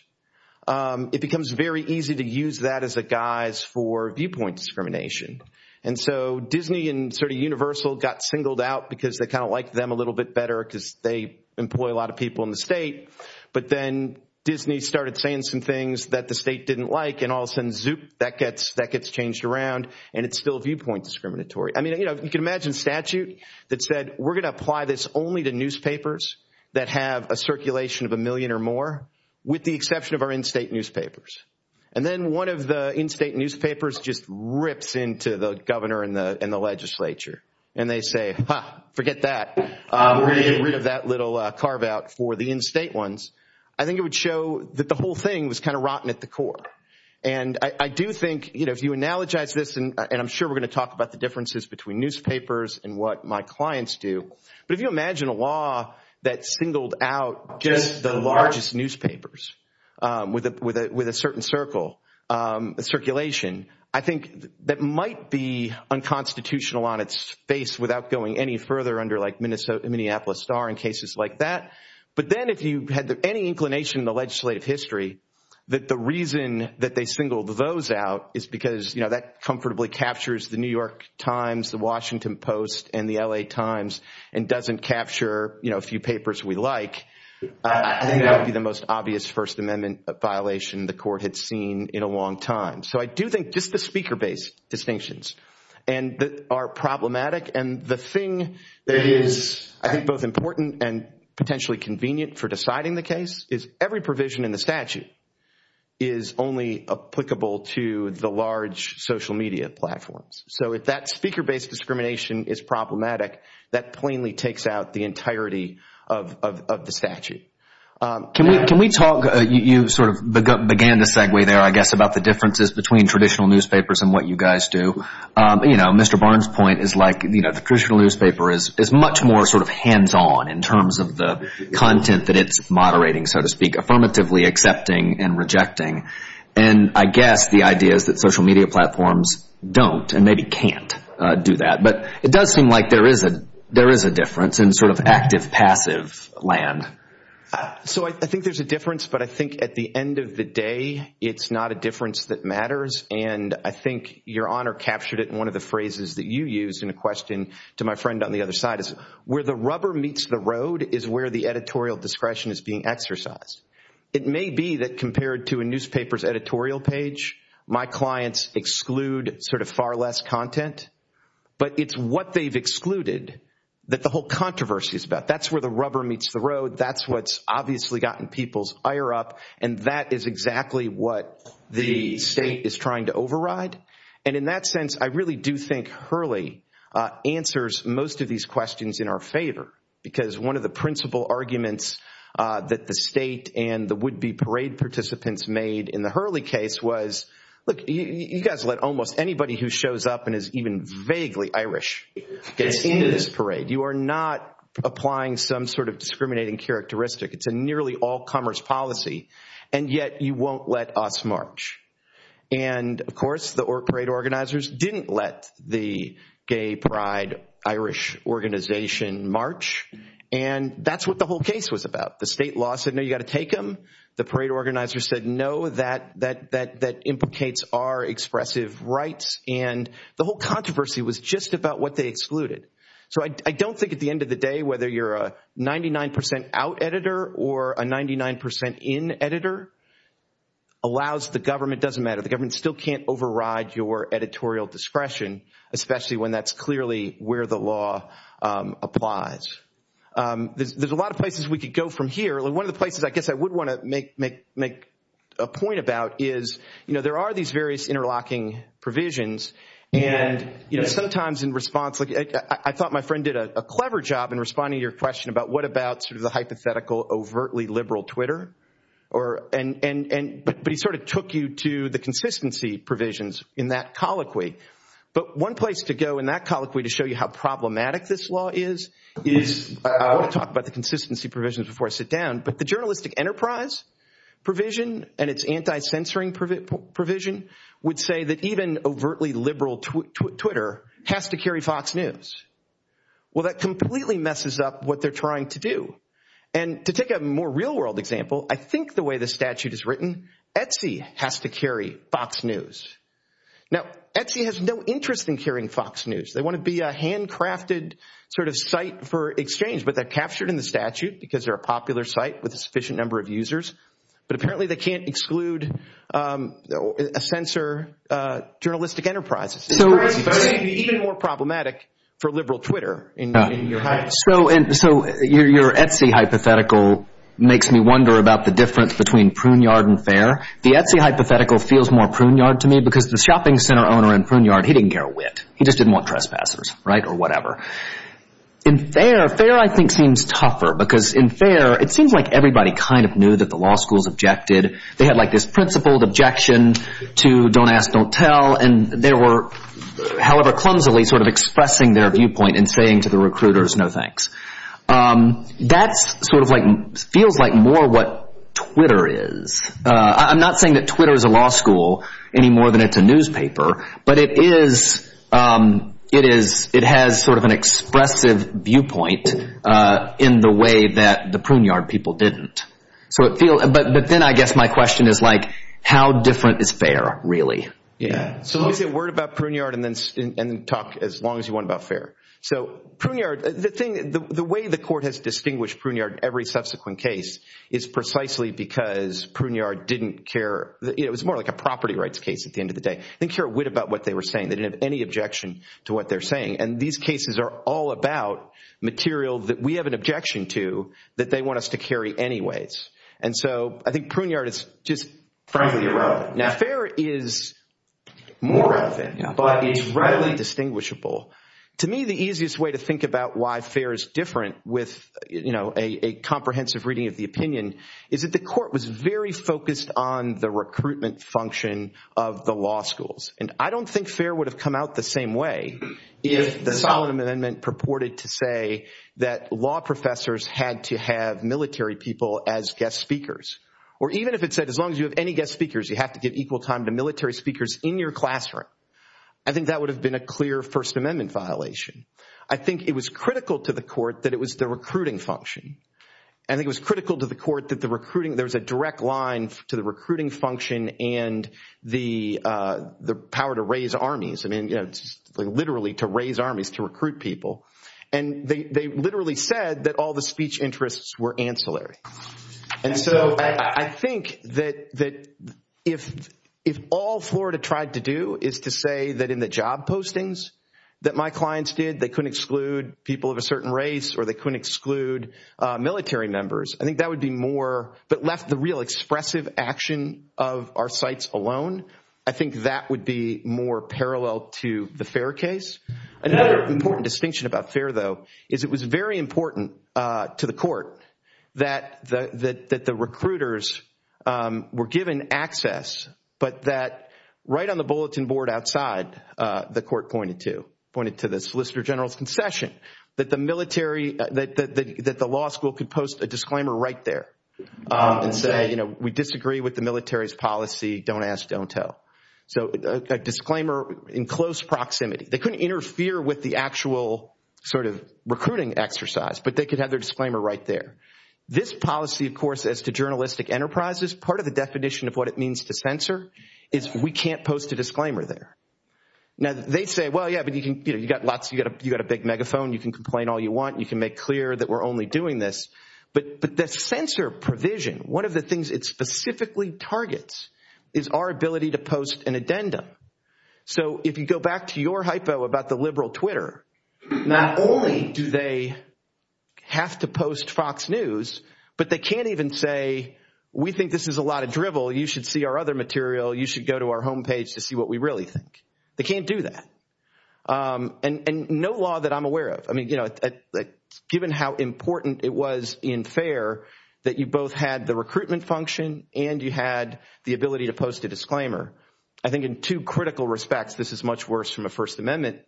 it becomes very easy to use that as a guise for viewpoint discrimination. And so Disney and sort of Universal got singled out because they kind of liked them a little bit better because they employ a lot of people in the state, but then Disney started saying some things that the state didn't like, and all of a sudden, zoop, that gets changed around, and it's still viewpoint discriminatory. I mean, you can imagine statute that said, we're going to apply this only to newspapers that have a circulation of a million or more with the exception of our in-state newspapers. And then one of the in-state newspapers just rips into the governor and the legislature, and they say, ha, forget that. We're going to get rid of that little carve-out for the in-state ones. I think it would show that the whole thing was kind of rotten at the core. And I do think if you analogize this, and I'm sure we're going to talk about the differences between newspapers and what my clients do, but if you imagine a law that singled out just the largest newspapers with a certain circulation, I think that might be unconstitutional on its face without going any further under like Minneapolis Star and cases like that. But then if you had any inclination in the legislative history that the reason that they singled those out is because that comfortably captures the New York Times, the Washington Post, and the L.A. Times, and doesn't capture a few papers we like, I think that would be the most obvious First Amendment violation the court had seen in a long time. So I do think just the speaker-based distinctions are problematic. And the thing that is, I think, both important and potentially convenient for deciding the case is every provision in the statute is only applicable to the large social media platforms. So if that speaker-based discrimination is problematic, that plainly takes out the entirety of the statute. Can we talk – you sort of began to segue there, I guess, about the differences between traditional newspapers and what you guys do. Mr. Barnes' point is like the traditional newspaper is much more sort of hands-on in terms of the content that it's moderating, so to speak, affirmatively accepting and rejecting. And I guess the idea is that social media platforms don't and maybe can't do that. But it does seem like there is a difference in sort of active-passive land. So I think there's a difference, but I think at the end of the day, it's not a difference that matters. And I think Your Honor captured it in one of the phrases that you used in a question to my friend on the other side. Where the rubber meets the road is where the editorial discretion is being exercised. It may be that compared to a newspaper's editorial page, my clients exclude sort of far less content, but it's what they've excluded that the whole controversy is about. That's where the rubber meets the road. That's what's obviously gotten people's ire up, and that is exactly what the state is trying to override. And in that sense, I really do think Hurley answers most of these questions in our favor because one of the principal arguments that the state and the would-be parade participants made in the Hurley case was, look, you guys let almost anybody who shows up and is even vaguely Irish get into this parade. You are not applying some sort of discriminating characteristic. It's a nearly all-comers policy, and yet you won't let us march. And, of course, the parade organizers didn't let the gay pride Irish organization march, and that's what the whole case was about. The state law said, no, you've got to take them. The parade organizers said, no, that implicates our expressive rights, and the whole controversy was just about what they excluded. So I don't think at the end of the day whether you're a 99% out editor or a 99% in editor allows the government, doesn't matter, the government still can't override your editorial discretion, especially when that's clearly where the law applies. There's a lot of places we could go from here. One of the places I guess I would want to make a point about is there are these various interlocking provisions, and sometimes in response, I thought my friend did a clever job in responding to your question about what about sort of the hypothetical overtly liberal Twitter, but he sort of took you to the consistency provisions in that colloquy. But one place to go in that colloquy to show you how problematic this law is, is I want to talk about the consistency provisions before I sit down, but the journalistic enterprise provision and its anti-censoring provision would say that even overtly liberal Twitter has to carry Fox News. Well, that completely messes up what they're trying to do, and to take a more real world example, I think the way the statute is written, Etsy has to carry Fox News. Now, Etsy has no interest in carrying Fox News. They want to be a handcrafted sort of site for exchange, but they're captured in the statute because they're a popular site with a sufficient number of users, but apparently they can't exclude a censor journalistic enterprise. It's even more problematic for liberal Twitter. So your Etsy hypothetical makes me wonder about the difference between Pruneyard and Fair. The Etsy hypothetical feels more Pruneyard to me because the shopping center owner in Pruneyard, he didn't care a whit. He just didn't want trespassers or whatever. In Fair, Fair I think seems tougher because in Fair, it seems like everybody kind of knew that the law schools objected. They had like this principled objection to don't ask, don't tell, and they were, however clumsily, sort of expressing their viewpoint and saying to the recruiters, no thanks. That sort of feels like more what Twitter is. I'm not saying that Twitter is a law school any more than it's a newspaper, but it has sort of an expressive viewpoint in the way that the Pruneyard people didn't. But then I guess my question is like how different is Fair really? So let me get word about Pruneyard and then talk as long as you want about Fair. So Pruneyard, the way the court has distinguished Pruneyard in every subsequent case is precisely because Pruneyard didn't care. It was more like a property rights case at the end of the day. They didn't care a whit about what they were saying. They didn't have any objection to what they're saying. And these cases are all about material that we have an objection to that they want us to carry anyways. And so I think Pruneyard is just frankly irrelevant. Now, Fair is more relevant, but it's readily distinguishable. To me, the easiest way to think about why Fair is different with a comprehensive reading of the opinion is that the court was very focused on the recruitment function of the law schools. And I don't think Fair would have come out the same way if the Solid Amendment purported to say that law professors had to have military people as guest speakers. Or even if it said as long as you have any guest speakers, you have to give equal time to military speakers in your classroom. I think that would have been a clear First Amendment violation. I think it was critical to the court that it was the recruiting function. I think it was critical to the court that there's a direct line to the recruiting function and the power to raise armies, literally to raise armies to recruit people. And they literally said that all the speech interests were ancillary. And so I think that if all Florida tried to do is to say that in the job postings that my clients did, they couldn't exclude people of a certain race or they couldn't exclude military members, I think that would be more, but left the real expressive action of our sites alone, I think that would be more parallel to the Fair case. Another important distinction about Fair, though, is it was very important to the court that the recruiters were given access, but that right on the bulletin board outside, the court pointed to, pointed to the Solicitor General's concession, that the military, that the law school could post a disclaimer right there and say, you know, we disagree with the military's policy, don't ask, don't tell. So a disclaimer in close proximity. They couldn't interfere with the actual sort of recruiting exercise, but they could have their disclaimer right there. This policy, of course, as to journalistic enterprises, part of the definition of what it means to censor is we can't post a disclaimer there. Now, they say, well, yeah, but you've got lots, you've got a big megaphone, you can complain all you want, you can make clear that we're only doing this. But the censor provision, one of the things it specifically targets is our ability to post an addendum. So if you go back to your hypo about the liberal Twitter, not only do they have to post Fox News, but they can't even say, we think this is a lot of drivel, you should see our other material, you should go to our home page to see what we really think. They can't do that. And no law that I'm aware of, I mean, you know, given how important it was in FAIR that you both had the recruitment function and you had the ability to post a disclaimer, I think in two critical respects this is much worse from a First Amendment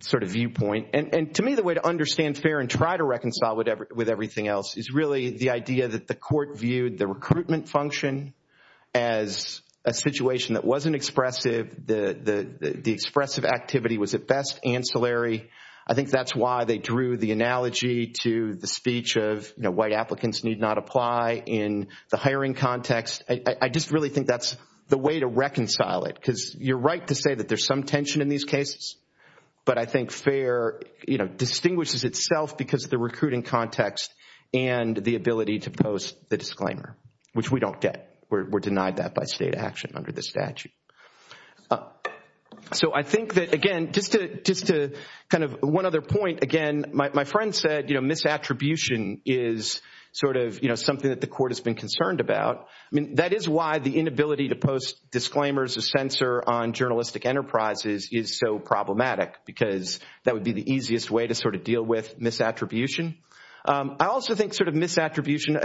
sort of viewpoint. And to me the way to understand FAIR and try to reconcile with everything else is really the idea that the court viewed the recruitment function as a situation that wasn't expressive, the expressive activity was at best ancillary. I think that's why they drew the analogy to the speech of, you know, white applicants need not apply in the hiring context. I just really think that's the way to reconcile it, because you're right to say that there's some tension in these cases, but I think FAIR, you know, distinguishes itself because of the recruiting context and the ability to post the disclaimer, which we don't get. We're denied that by state action under the statute. So I think that, again, just to kind of one other point, again, my friend said, you know, that is why the inability to post disclaimers, to censor on journalistic enterprises is so problematic, because that would be the easiest way to sort of deal with misattribution. I also think sort of misattribution,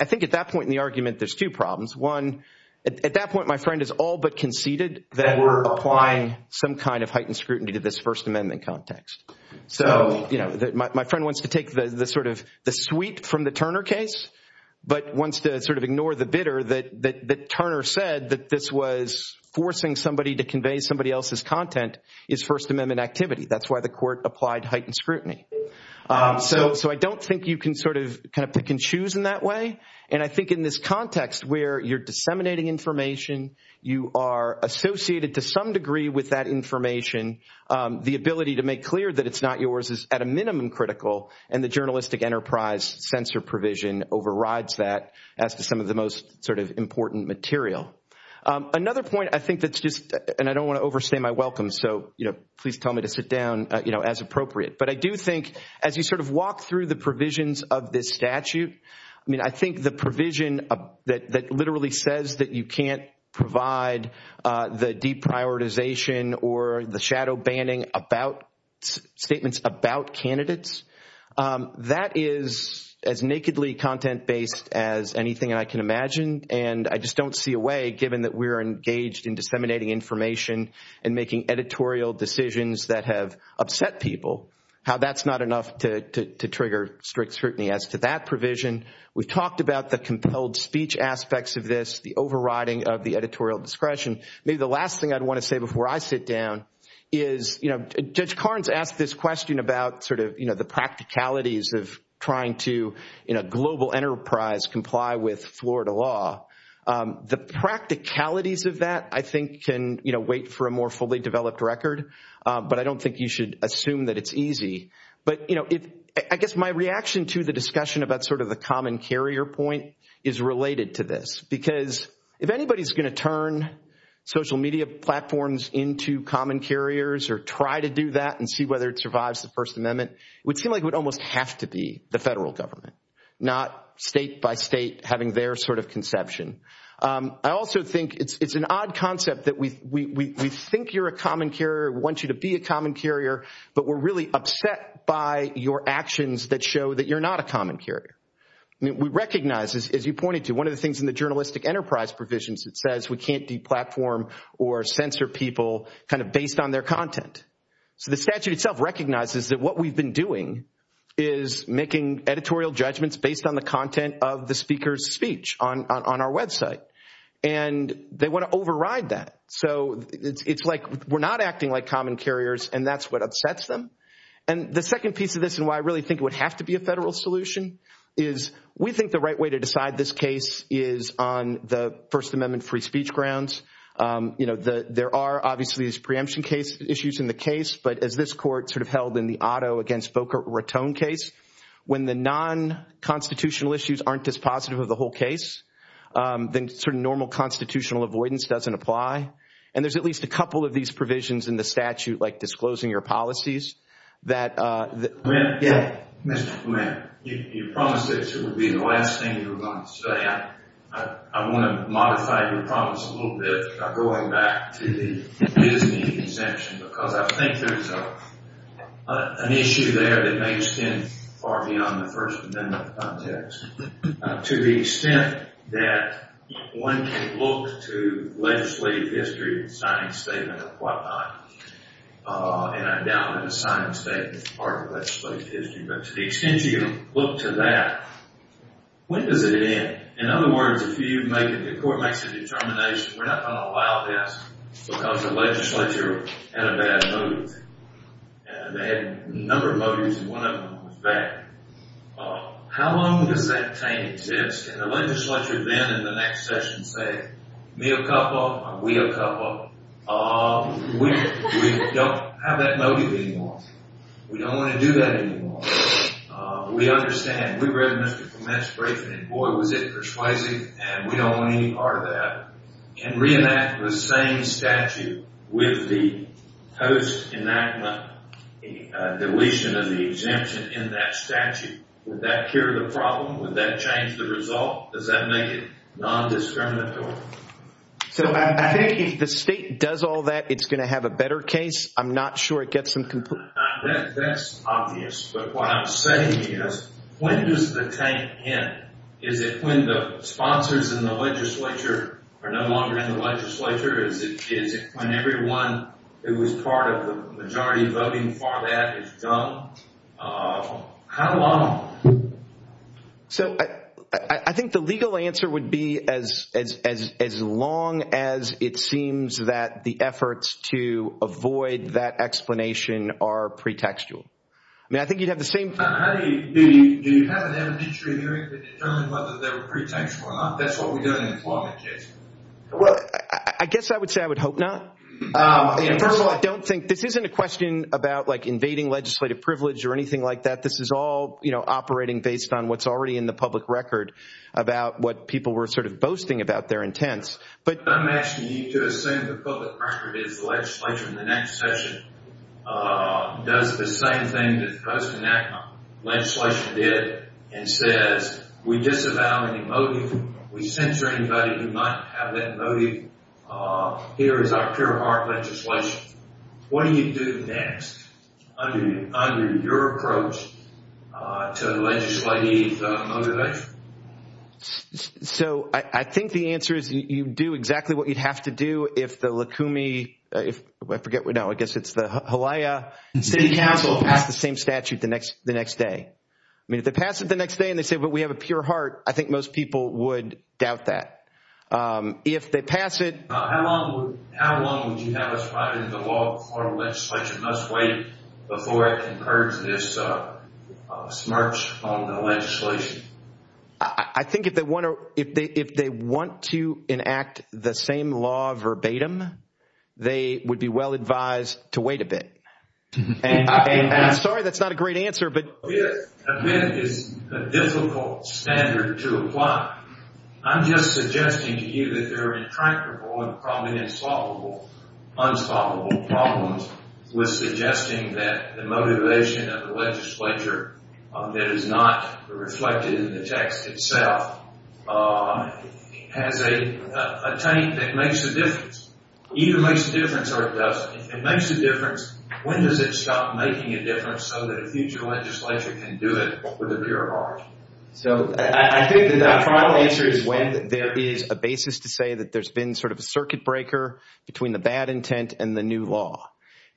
I think at that point in the argument there's two problems. One, at that point my friend has all but conceded that we're applying some kind of heightened scrutiny to this First Amendment context. So, you know, my friend wants to take the sort of the sweep from the Turner case, but wants to sort of ignore the bitter that Turner said that this was forcing somebody to convey somebody else's content is First Amendment activity. That's why the court applied heightened scrutiny. So I don't think you can sort of pick and choose in that way, and I think in this context where you're disseminating information, you are associated to some degree with that information, the ability to make clear that it's not yours is at a minimum critical, and the journalistic enterprise censor provision overrides that as to some of the most sort of important material. Another point I think that's just, and I don't want to overstay my welcome, so please tell me to sit down as appropriate, but I do think as you sort of walk through the provisions of this statute, I mean I think the provision that literally says that you can't provide the deprioritization or the shadow banning statements about candidates, that is as nakedly content-based as anything I can imagine, and I just don't see a way given that we're engaged in disseminating information and making editorial decisions that have upset people, how that's not enough to trigger strict scrutiny. As to that provision, we talked about the compelled speech aspects of this, the overriding of the editorial discretion. Maybe the last thing I'd want to say before I sit down is, you know, Judge Carnes asked this question about sort of the practicalities of trying to, in a global enterprise, comply with Florida law. The practicalities of that I think can wait for a more fully developed record, but I don't think you should assume that it's easy. But I guess my reaction to the discussion about sort of the common carrier point is related to this, because if anybody's going to turn social media platforms into common carriers or try to do that and see whether it survives the First Amendment, it would seem like it would almost have to be the federal government, not state by state having their sort of conception. I also think it's an odd concept that we think you're a common carrier, we want you to be a common carrier, but we're really upset by your actions that show that you're not a common carrier. We recognize, as you pointed to, one of the things in the journalistic enterprise provisions that says we can't deplatform or censor people kind of based on their content. So the statute itself recognizes that what we've been doing is making editorial judgments based on the content of the speaker's speech on our website, and they want to override that. So it's like we're not acting like common carriers, and that's what upsets them. And the second piece of this, and why I really think it would have to be a federal solution, is we think the right way to decide this case is on the First Amendment free speech grounds. You know, there are obviously these preemption issues in the case, but as this court sort of held in the Otto against Boca Raton case, when the non-constitutional issues aren't as positive as the whole case, then sort of normal constitutional avoidance doesn't apply. And there's at least a couple of these provisions in the statute, like disclosing your policies. Mr. Clement, you promised this would be the last thing you were going to say. I want to modify your promise a little bit by going back to the Disney exemption because I think there's an issue there that may extend far beyond the First Amendment context. To the extent that one can look to legislative history and sign a statement of what not, and I doubt that a signed statement is part of legislative history, but to the extent you can look to that, when does it end? In other words, if you make, if the court makes a determination, we're not going to allow this because the legislature had a bad motive. They had a number of motives, and one of them was that. How long does that thing exist? And the legislature then in the next session say, me a couple, we a couple. We don't have that motive anymore. We don't want to do that anymore. We understand. We read Mr. Clement's statement, and boy was it persuasive, and we don't want any part of that. If the state can reenact the same statute with the post enactment deletion of the exemption in that statute, would that cure the problem? Would that change the result? Does that make it non-discriminatory? So I think if the state does all that, it's going to have a better case. I'm not sure it gets them completely. That's obvious, but what I'm saying is, when does the tank end? Is it when the sponsors in the legislature are no longer in the legislature? Is it when everyone who was part of the majority voting for that is gone? How long? So I think the legal answer would be as long as it seems that the efforts to avoid that explanation are pretextual. I mean, I think you'd have the same thing. Do you have an amnesty in New England to tell us what the pretext was? That's what we're going to imply. Well, I guess I would say I would hope not. I don't think this isn't a question about invading legislative privilege or anything like that. This is all operating based on what's already in the public record about what people were sort of boasting about their intents. I'm asking you to assume the public record is the legislature in the next session. Does it the same thing that the person in that legislation did and said, we disavow any motive, we censor anybody who might have that motive? Here is our pure heart legislation. What do you do next under your approach to legislative motivation? So I think the answer is you do exactly what you'd have to do if the Lakumi, if I forget, no, I guess it's the Hawaii City Council, passed the same statute the next day. I mean, if they pass it the next day and they say, well, we have a pure heart, I think most people would doubt that. If they pass it... How long would you have us fight in the law, must wait before it incurs this smirch on the legislation? I think if they want to enact the same law verbatim, they would be well advised to wait a bit. And I'm sorry that's not a great answer, but... We have a difficult standard to apply. I'm just suggesting to you that there is comfortable and probably insoluble, unsolvable problems with suggesting that the motivation of the legislature that is not reflected in the text itself has a taint that makes a difference. It either makes a difference or it doesn't. If it makes a difference, when does it stop making a difference so that a future legislature can do it with a pure heart? So I think the final answer is when there is a basis to say that there's been a circuit breaker between the bad intent and the new law.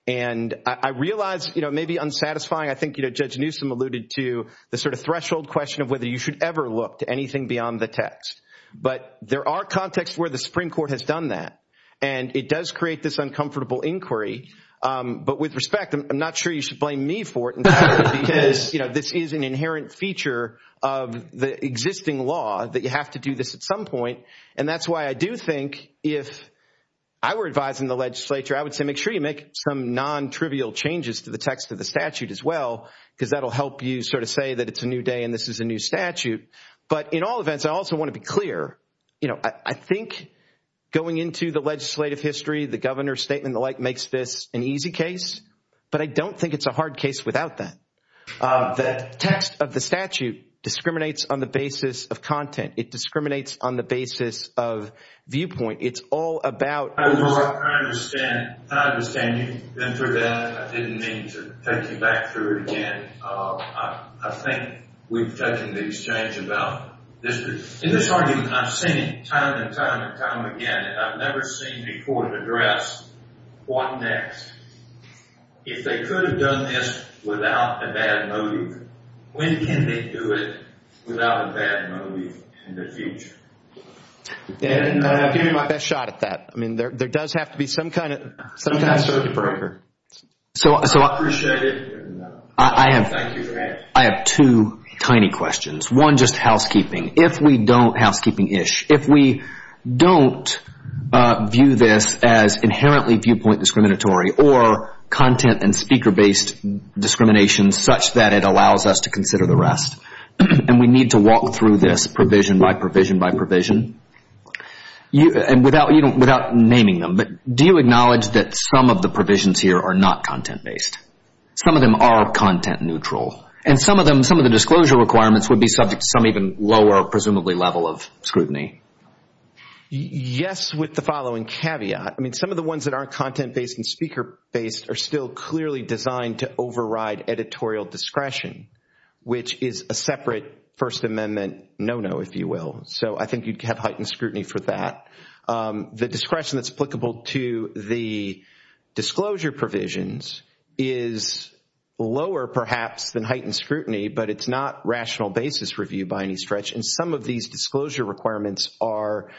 And I realize it may be unsatisfying. I think Judge Newsom alluded to the threshold question of whether you should ever look to anything beyond the text. But there are contexts where the Supreme Court has done that, and it does create this uncomfortable inquiry. But with respect, I'm not sure you should blame me for it because this is an inherent feature of the existing law that you have to do this at some point. And that's why I do think if I were advising the legislature, I would say make sure you make some non-trivial changes to the text of the statute as well because that will help you sort of say that it's a new day and this is a new statute. But in all events, I also want to be clear. I think going into the legislative history, the governor's statement, the like, makes this an easy case, but I don't think it's a hard case without that. The text of the statute discriminates on the basis of content. It discriminates on the basis of viewpoint. It's all about— I know. I understand. I understand you. And for that, I didn't mean to take you back through it again. I think we've touched on these changes. I've seen it time and time and time again, and I've never seen the court address what next. If they could have done this without a bad motive, when can they do it without a bad motive in the future? I'll give you my best shot at that. There does have to be some kind of— Sometimes there's a breaker. I appreciate it. I have two tiny questions. One, just housekeeping. If we don't—housekeeping-ish. If we don't view this as inherently viewpoint discriminatory or content- and speaker-based discrimination such that it allows us to consider the rest, and we need to walk through this provision by provision by provision, and without naming them, do you acknowledge that some of the provisions here are not content-based? Some of them are content-neutral, and some of the disclosure requirements would be subject to some even lower, presumably, level of scrutiny. Yes, with the following caveat. Some of the ones that are content-based and speaker-based are still clearly designed to override editorial discretion, which is a separate First Amendment no-no, if you will. I think you'd have heightened scrutiny for that. The discretion that's applicable to the disclosure provisions is lower, perhaps, than heightened scrutiny, but it's not rational basis review by any stretch, and some of these disclosure requirements are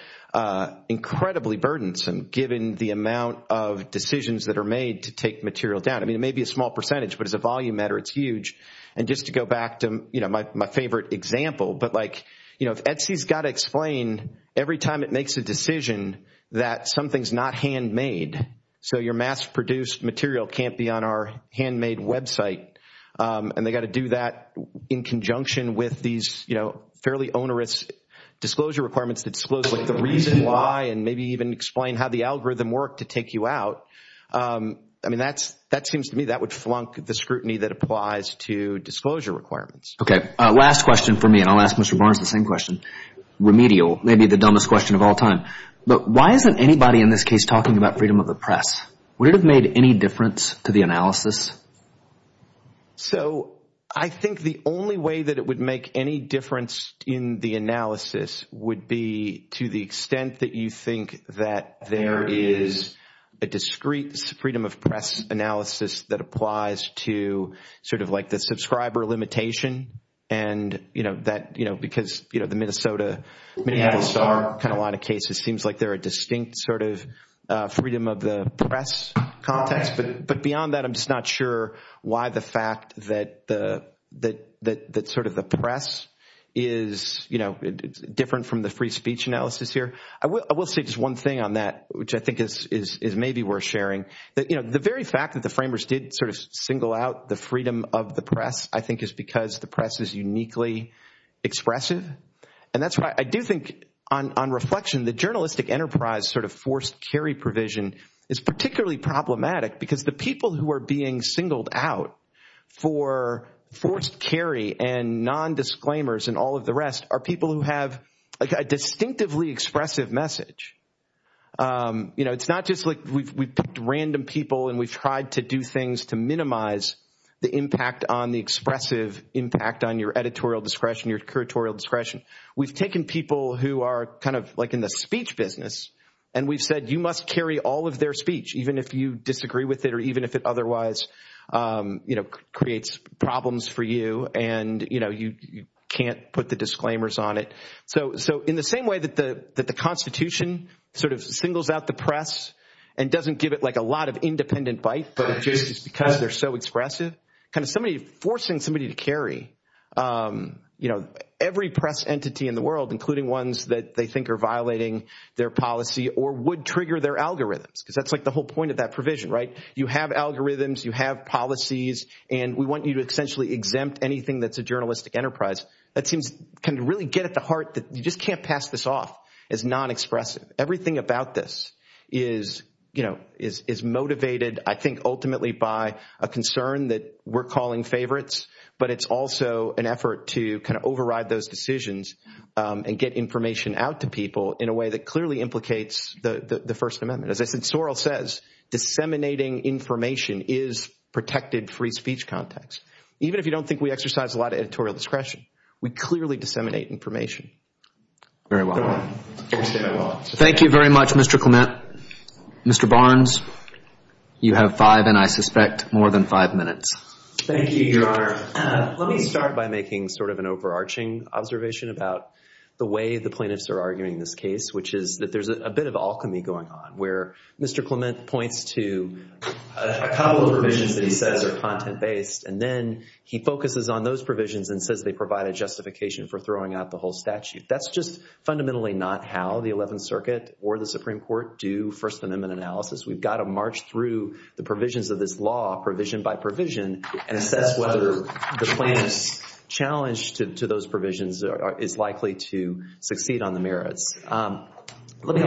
incredibly burdensome, given the amount of decisions that are made to take material down. I mean, it may be a small percentage, but as a volume matter, it's huge. And just to go back to my favorite example, but like, you know, ETSI's got to explain every time it makes a decision that something's not handmade, so your mass-produced material can't be on our handmade website, and they've got to do that in conjunction with these fairly onerous disclosure requirements that disclose the reason why and maybe even explain how the algorithm worked to take you out. I mean, that seems to me that would flunk the scrutiny that applies to disclosure requirements. Okay, last question for me, and I'll ask Mr. Barnes the same question, remedial. Maybe the dumbest question of all time, but why isn't anybody in this case talking about freedom of the press? Would it have made any difference to the analysis? So, I think the only way that it would make any difference in the analysis would be to the extent that you think that there is a discrete freedom of press analysis that applies to sort of like the subscriber limitation, and, you know, that, you know, because, you know, the Minnesota, Minneapolis are kind of a lot of cases, seems like they're a distinct sort of freedom of the press context. But beyond that, I'm just not sure why the fact that sort of the press is, you know, different from the free speech analysis here. I will say just one thing on that, which I think is maybe worth sharing. You know, the very fact that the framers did sort of single out the freedom of the press, I think, is because the press is uniquely expressive, and that's why I do think on reflection, the journalistic enterprise sort of forced carry provision is particularly problematic, because the people who are being singled out for forced carry and nondisclaimers and all of the rest are people who have a distinctively expressive message. You know, it's not just like we've picked random people and we've tried to do things to minimize the impact on the expressive impact on your editorial discretion, your curatorial discretion. We've taken people who are kind of like in the speech business and we've said you must carry all of their speech, even if you disagree with it or even if it otherwise, you know, creates problems for you and, you know, you can't put the disclaimers on it. So in the same way that the Constitution sort of singles out the press and doesn't give it like a lot of independent bite because they're so expressive, kind of forcing somebody to carry, you know, every press entity in the world, including ones that they think are violating their policy or would trigger their algorithms, because that's like the whole point of that provision, right? You have algorithms, you have policies, and we want you to essentially exempt anything that's a journalistic enterprise. That seems to really get at the heart that you just can't pass this off as non-expressive. Everything about this is, you know, is motivated, I think, ultimately by a concern that we're calling favorites, but it's also an effort to kind of override those decisions and get information out to people in a way that clearly implicates the First Amendment. As Sorrell says, disseminating information is protected free speech context. Even if you don't think we exercise a lot of editorial discretion, we clearly disseminate information. Very well. Thank you very much, Mr. Clement. Mr. Barnes, you have five and, I suspect, more than five minutes. Thank you, Your Honor. Let me start by making sort of an overarching observation about the way the plaintiffs are arguing this case, which is that there's a bit of alchemy going on where Mr. Clement points to a couple of provisions that he says are content-based, and then he focuses on those provisions and says they provide a justification for throwing out the whole statute. That's just fundamentally not how the Eleventh Circuit or the Supreme Court do First Amendment analysis. We've got to march through the provisions of this law provision by provision and assess whether the plaintiff's challenge to those provisions is likely to succeed on the merits. We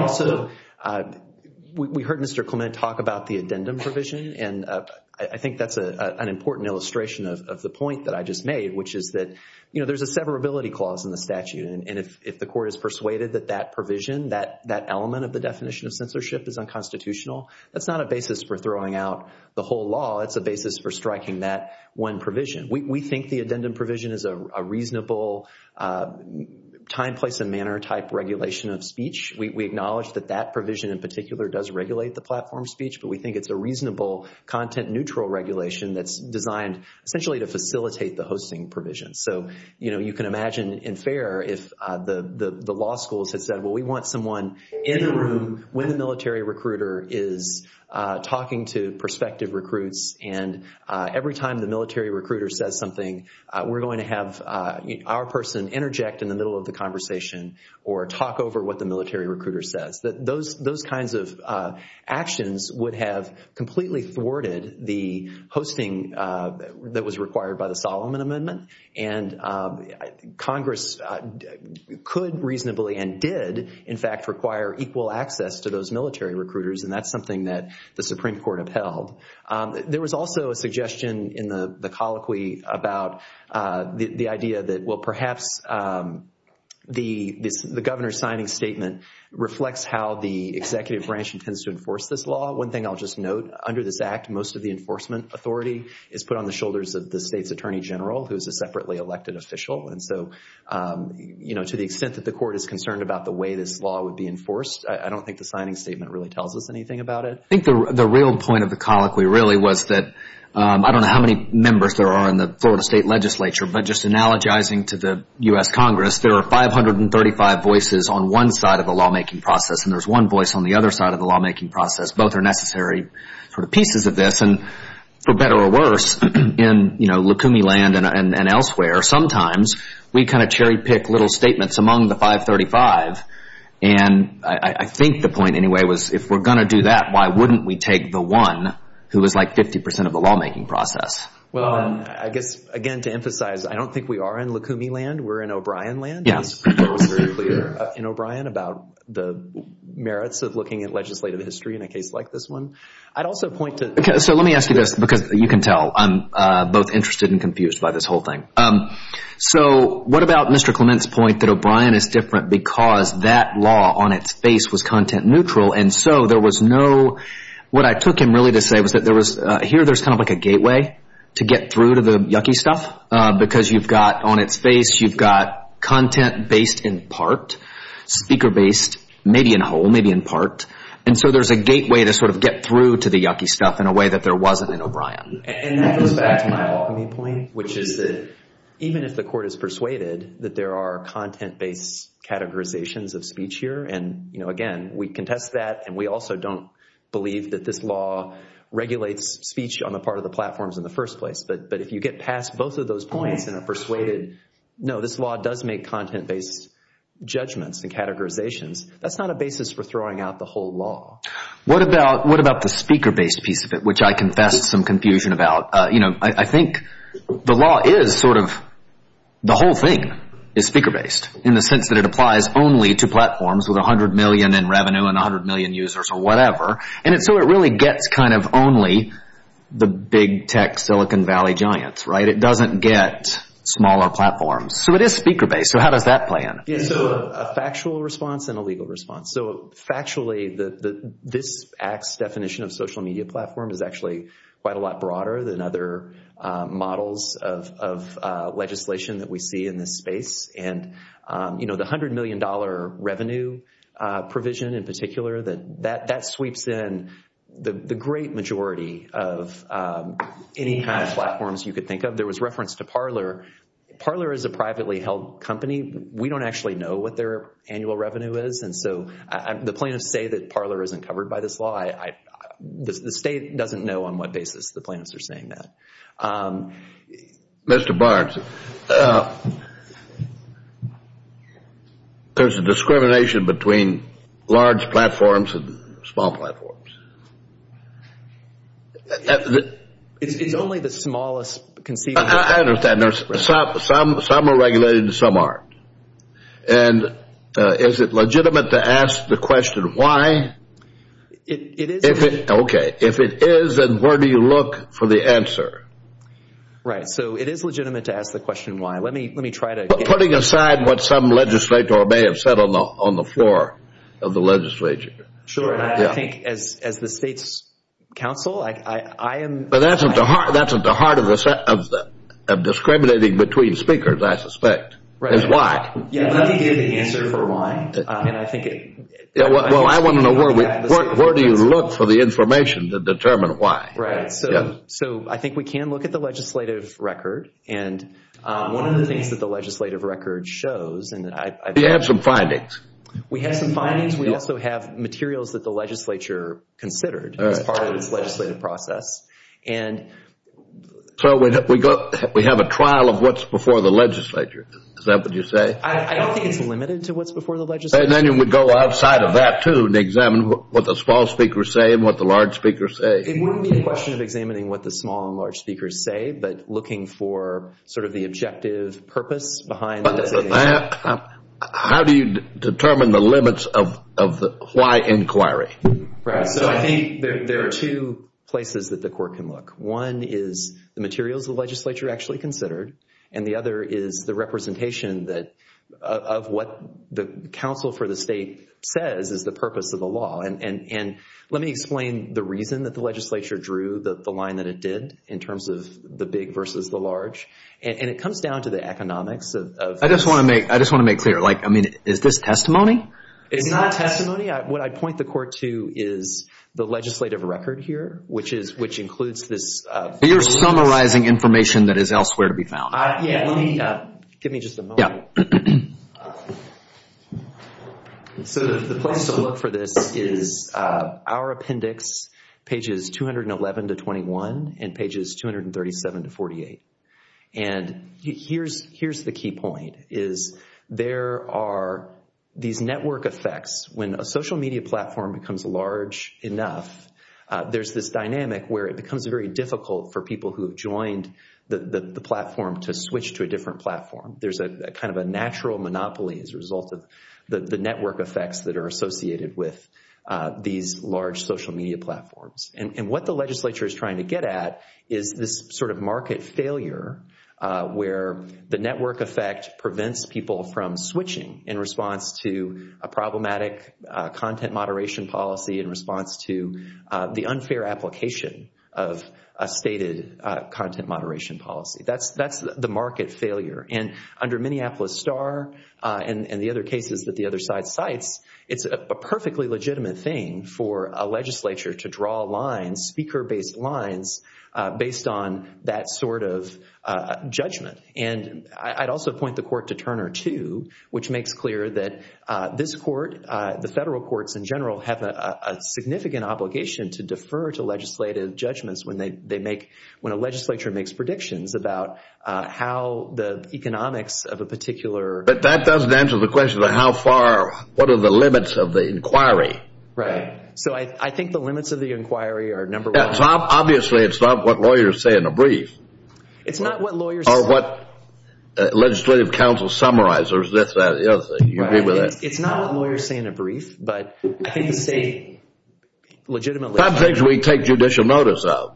heard Mr. Clement talk about the addendum provision, and I think that's an important illustration of the point that I just made, which is that there's a severability clause in the statute, and if the court is persuaded that that provision, that element of the definition of censorship is unconstitutional, that's not a basis for throwing out the whole law. It's a basis for striking that one provision. We think the addendum provision is a reasonable time, place, and manner type regulation of speech. We acknowledge that that provision in particular does regulate the platform speech, but we think it's a reasonable content-neutral regulation that's designed essentially to facilitate the hosting provision. So you can imagine in FAIR if the law schools had said, well, we want someone in a room when a military recruiter is talking to prospective recruits, and every time the military recruiter says something, we're going to have our person interject in the middle of the conversation or talk over what the military recruiter says. Those kinds of actions would have completely thwarted the hosting that was required by the Solomon Amendment, and Congress could reasonably and did in fact require equal access to those military recruiters, and that's something that the Supreme Court upheld. There was also a suggestion in the colloquy about the idea that, well, perhaps the governor's signing statement reflects how the executive branch intends to enforce this law. One thing I'll just note, under this act, most of the enforcement authority is put on the shoulders of the state's attorney general, who is a separately elected official, and so to the extent that the court is concerned about the way this law would be enforced, I don't think the signing statement really tells us anything about it. I think the real point of the colloquy really was that I don't know how many members there are in the Florida State Legislature, but just analogizing to the U.S. Congress, there are 535 voices on one side of the lawmaking process, and there's one voice on the other side of the lawmaking process. Both are necessary pieces of this, and for better or worse, in Lacumi Land and elsewhere, sometimes we kind of cherry-pick little statements among the 535, and I think the point anyway was if we're going to do that, why wouldn't we take the one who is like 50% of the lawmaking process? Well, again, to emphasize, I don't think we are in Lacumi Land. We're in O'Brien Land. It's very clear in O'Brien about the merits of looking at legislative history in a case like this one. I'd also point to – Okay, so let me ask you this because you can tell I'm both interested and confused by this whole thing. So what about Mr. Clement's point that O'Brien is different because that law on its face was content neutral, and so there was no – what I took him really to say was that there was – here there's kind of like a gateway to get through to the yucky stuff because you've got on its face, you've got content based in part, speaker based, maybe in whole, maybe in part, and so there's a gateway to sort of get through to the yucky stuff in a way that there wasn't in O'Brien. And that goes back to my point, which is that even if the court is persuaded that there are content based categorizations of speech here, and again, we contest that, and we also don't believe that this law regulates speech on the part of the platforms in the first place, but if you get past both of those points and are persuaded, no, this law does make content based judgments and categorizations, that's not a basis for throwing out the whole law. What about the speaker based piece of it, which I confessed some confusion about? I think the law is sort of the whole thing is speaker based in the sense that it applies only to platforms with 100 million in revenue and 100 million users or whatever, and so it really gets kind of only the big tech Silicon Valley giants. It doesn't get smaller platforms. So it is speaker based, so how does that play in? A factual response and a legal response. So factually, this act's definition of social media platform is actually quite a lot broader than other models of legislation that we see in this space, and the $100 million revenue provision in particular, that sweeps in the great majority of any kind of platforms you could think of. There was reference to Parler. Parler is a privately held company. We don't actually know what their annual revenue is, and so the plaintiffs say that Parler isn't covered by this law. The state doesn't know on what basis the plaintiffs are saying that. Mr. Barnes, there's a discrimination between large platforms and small platforms. It's only the smallest conceivable. I understand. Some are regulated and some aren't. And is it legitimate to ask the question why? It is. Okay. If it is, then where do you look for the answer? Right. So it is legitimate to ask the question why. Let me try to. Putting aside what some legislator may have said on the floor of the legislature. Sure. I think as the state's counsel, I am. But that's at the heart of discriminating between speakers, I suspect, is why. Let me give the answer for why. Well, I want to know where do you look for the information to determine why. Right. So I think we can look at the legislative record, and one of the things that the legislative record shows. We have some findings. We have some findings. We also have materials that the legislature considered as part of the legislative process. So we have a trial of what's before the legislature. Is that what you say? I think it's limited to what's before the legislature. Then you would go outside of that, too, and examine what the small speakers say and what the large speakers say. It wouldn't be a question of examining what the small and large speakers say, but looking for sort of the objective purpose behind it. How do you determine the limits of why inquiry? Right. So I think there are two places that the court can look. One is the materials the legislature actually considered, and the other is the representation of what the counsel for the state says is the purpose of the law. And let me explain the reason that the legislature drew the line that it did in terms of the big versus the large. And it comes down to the economics. I just want to make clear. I mean, is this testimony? It's not testimony. What I point the court to is the legislative record here, which includes this. You're summarizing information that is elsewhere to be found. Yeah. Give me just a moment. Yeah. So the place to look for this is our appendix, pages 211 to 21 and pages 237 to 48. And here's the key point is there are these network effects. When a social media platform becomes large enough, there's this dynamic where it becomes very difficult for people who have joined the platform to switch to a different platform. There's kind of a natural monopoly as a result of the network effects that are associated with these large social media platforms. And what the legislature is trying to get at is this sort of market failure where the network effect prevents people from switching in response to a problematic content moderation policy in response to the unfair application of a stated content moderation policy. That's the market failure. And under Minneapolis Star and the other cases that the other side cites, it's a perfectly legitimate thing for a legislature to draw lines, speaker-based lines, based on that sort of judgment. And I'd also point the court to Turner, too, which makes clear that this court, the federal courts in general, have a significant obligation to defer to legislative judgments when a legislature makes predictions about how the economics of a particular- But that doesn't answer the question of how far, what are the limits of the inquiry. Right. So I think the limits of the inquiry are number one. Obviously, it's not what lawyers say in a brief. It's not what lawyers- Or what legislative council summarizers, this, that, the other thing. It's not what lawyers say in a brief, but I think the state legitimately- Some things we take judicial notice of.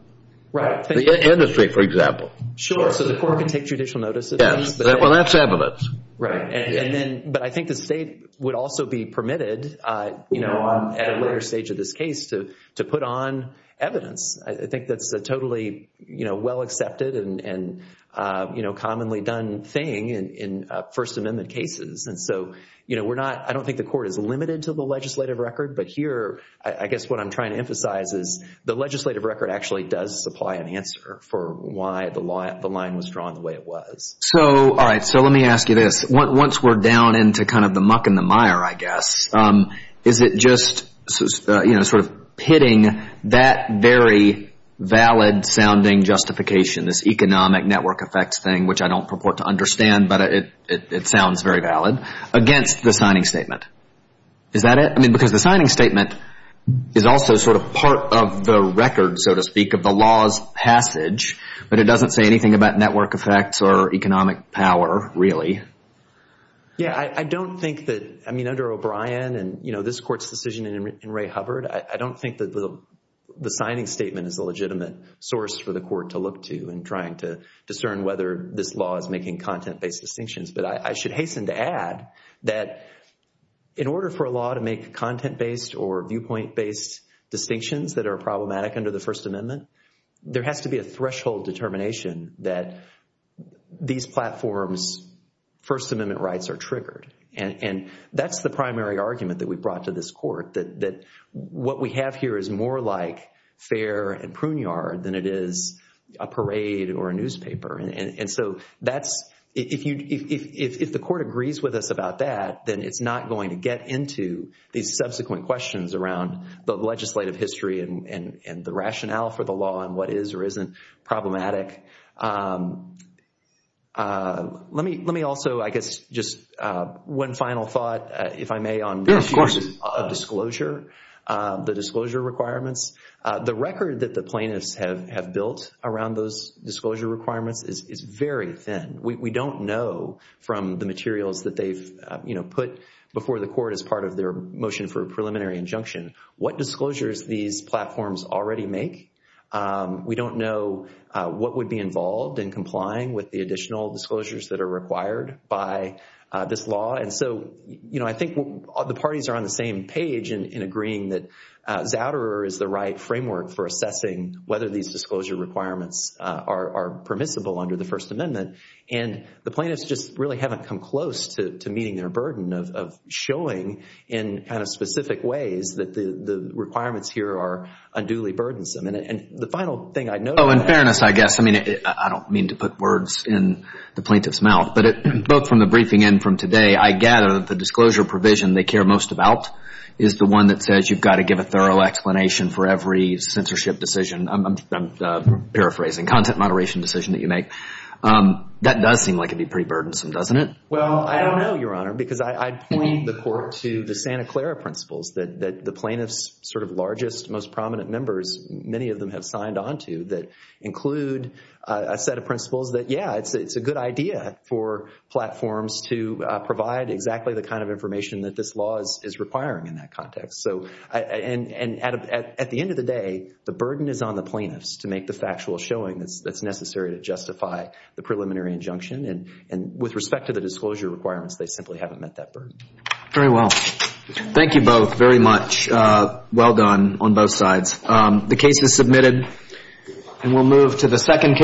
Right. The industry, for example. Sure. So the court can take judicial notice of things. Well, that's evidence. Right. But I think the state would also be permitted at a later stage of this case to put on evidence. I think that's a totally well-accepted and commonly done thing in First Amendment cases. I don't think the court is limited to the legislative record. But here, I guess what I'm trying to emphasize is the legislative record actually does supply an answer for why the line was drawn the way it was. All right. So let me ask you this. Once we're down into kind of the muck and the mire, I guess, is it just sort of pitting that very valid-sounding justification, this economic network effects thing, which I don't purport to understand, but it sounds very valid, against the signing statement? Is that it? I mean, because the signing statement is also sort of part of the record, so to speak, of the law's passage, but it doesn't say anything about network effects or economic power, really. Yeah. I don't think that- I mean, under O'Brien and this court's decision in Ray Hubbard, I don't think that the signing statement is a legitimate source for the court to look to in trying to discern whether this law is making content-based distinctions. But I should hasten to add that in order for a law to make content-based or viewpoint-based distinctions that are problematic under the First Amendment, there has to be a threshold determination that these platforms' First Amendment rights are triggered. And that's the primary argument that we brought to this court, that what we have here is more like fair and pruneyard than it is a parade or a newspaper. And so if the court agrees with us about that, then it's not going to get into these subsequent questions around the legislative history and the rationale for the law and what is or isn't problematic. Let me also, I guess, just one final thought, if I may, on the issue of disclosure, the disclosure requirements. The record that the plaintiffs have built around those disclosure requirements is very thin. We don't know from the materials that they've put before the court as part of their motion for a preliminary injunction what disclosures these platforms already make. We don't know what would be involved in complying with the additional disclosures that are required by this law. And so, you know, I think the parties are on the same page in agreeing that Zouderer is the right framework for assessing whether these disclosure requirements are permissible under the First Amendment. And the plaintiffs just really haven't come close to meeting their burden of showing in kind of specific ways that the requirements here are unduly burdensome. Oh, in fairness, I guess. I mean, I don't mean to put words in the plaintiff's mouth, but both from the briefing and from today, I gather the disclosure provision they care most about is the one that says you've got to give a thorough explanation for every censorship decision. I'm paraphrasing, content moderation decision that you make. That does seem like it would be pretty burdensome, doesn't it? Well, I don't know, Your Honor, because I plead the court to the Santa Clara principles that the plaintiff's sort of largest, most prominent members, many of them have signed onto that include a set of principles that, yeah, it's a good idea for platforms to provide exactly the kind of information that this law is requiring in that context. And at the end of the day, the burden is on the plaintiffs to make the factual showing that's necessary to justify the preliminary injunction. And with respect to the disclosure requirements, they simply haven't met that burden. Very well. Thank you both very much. Well done on both sides. The case is submitted, and we'll move to the second case.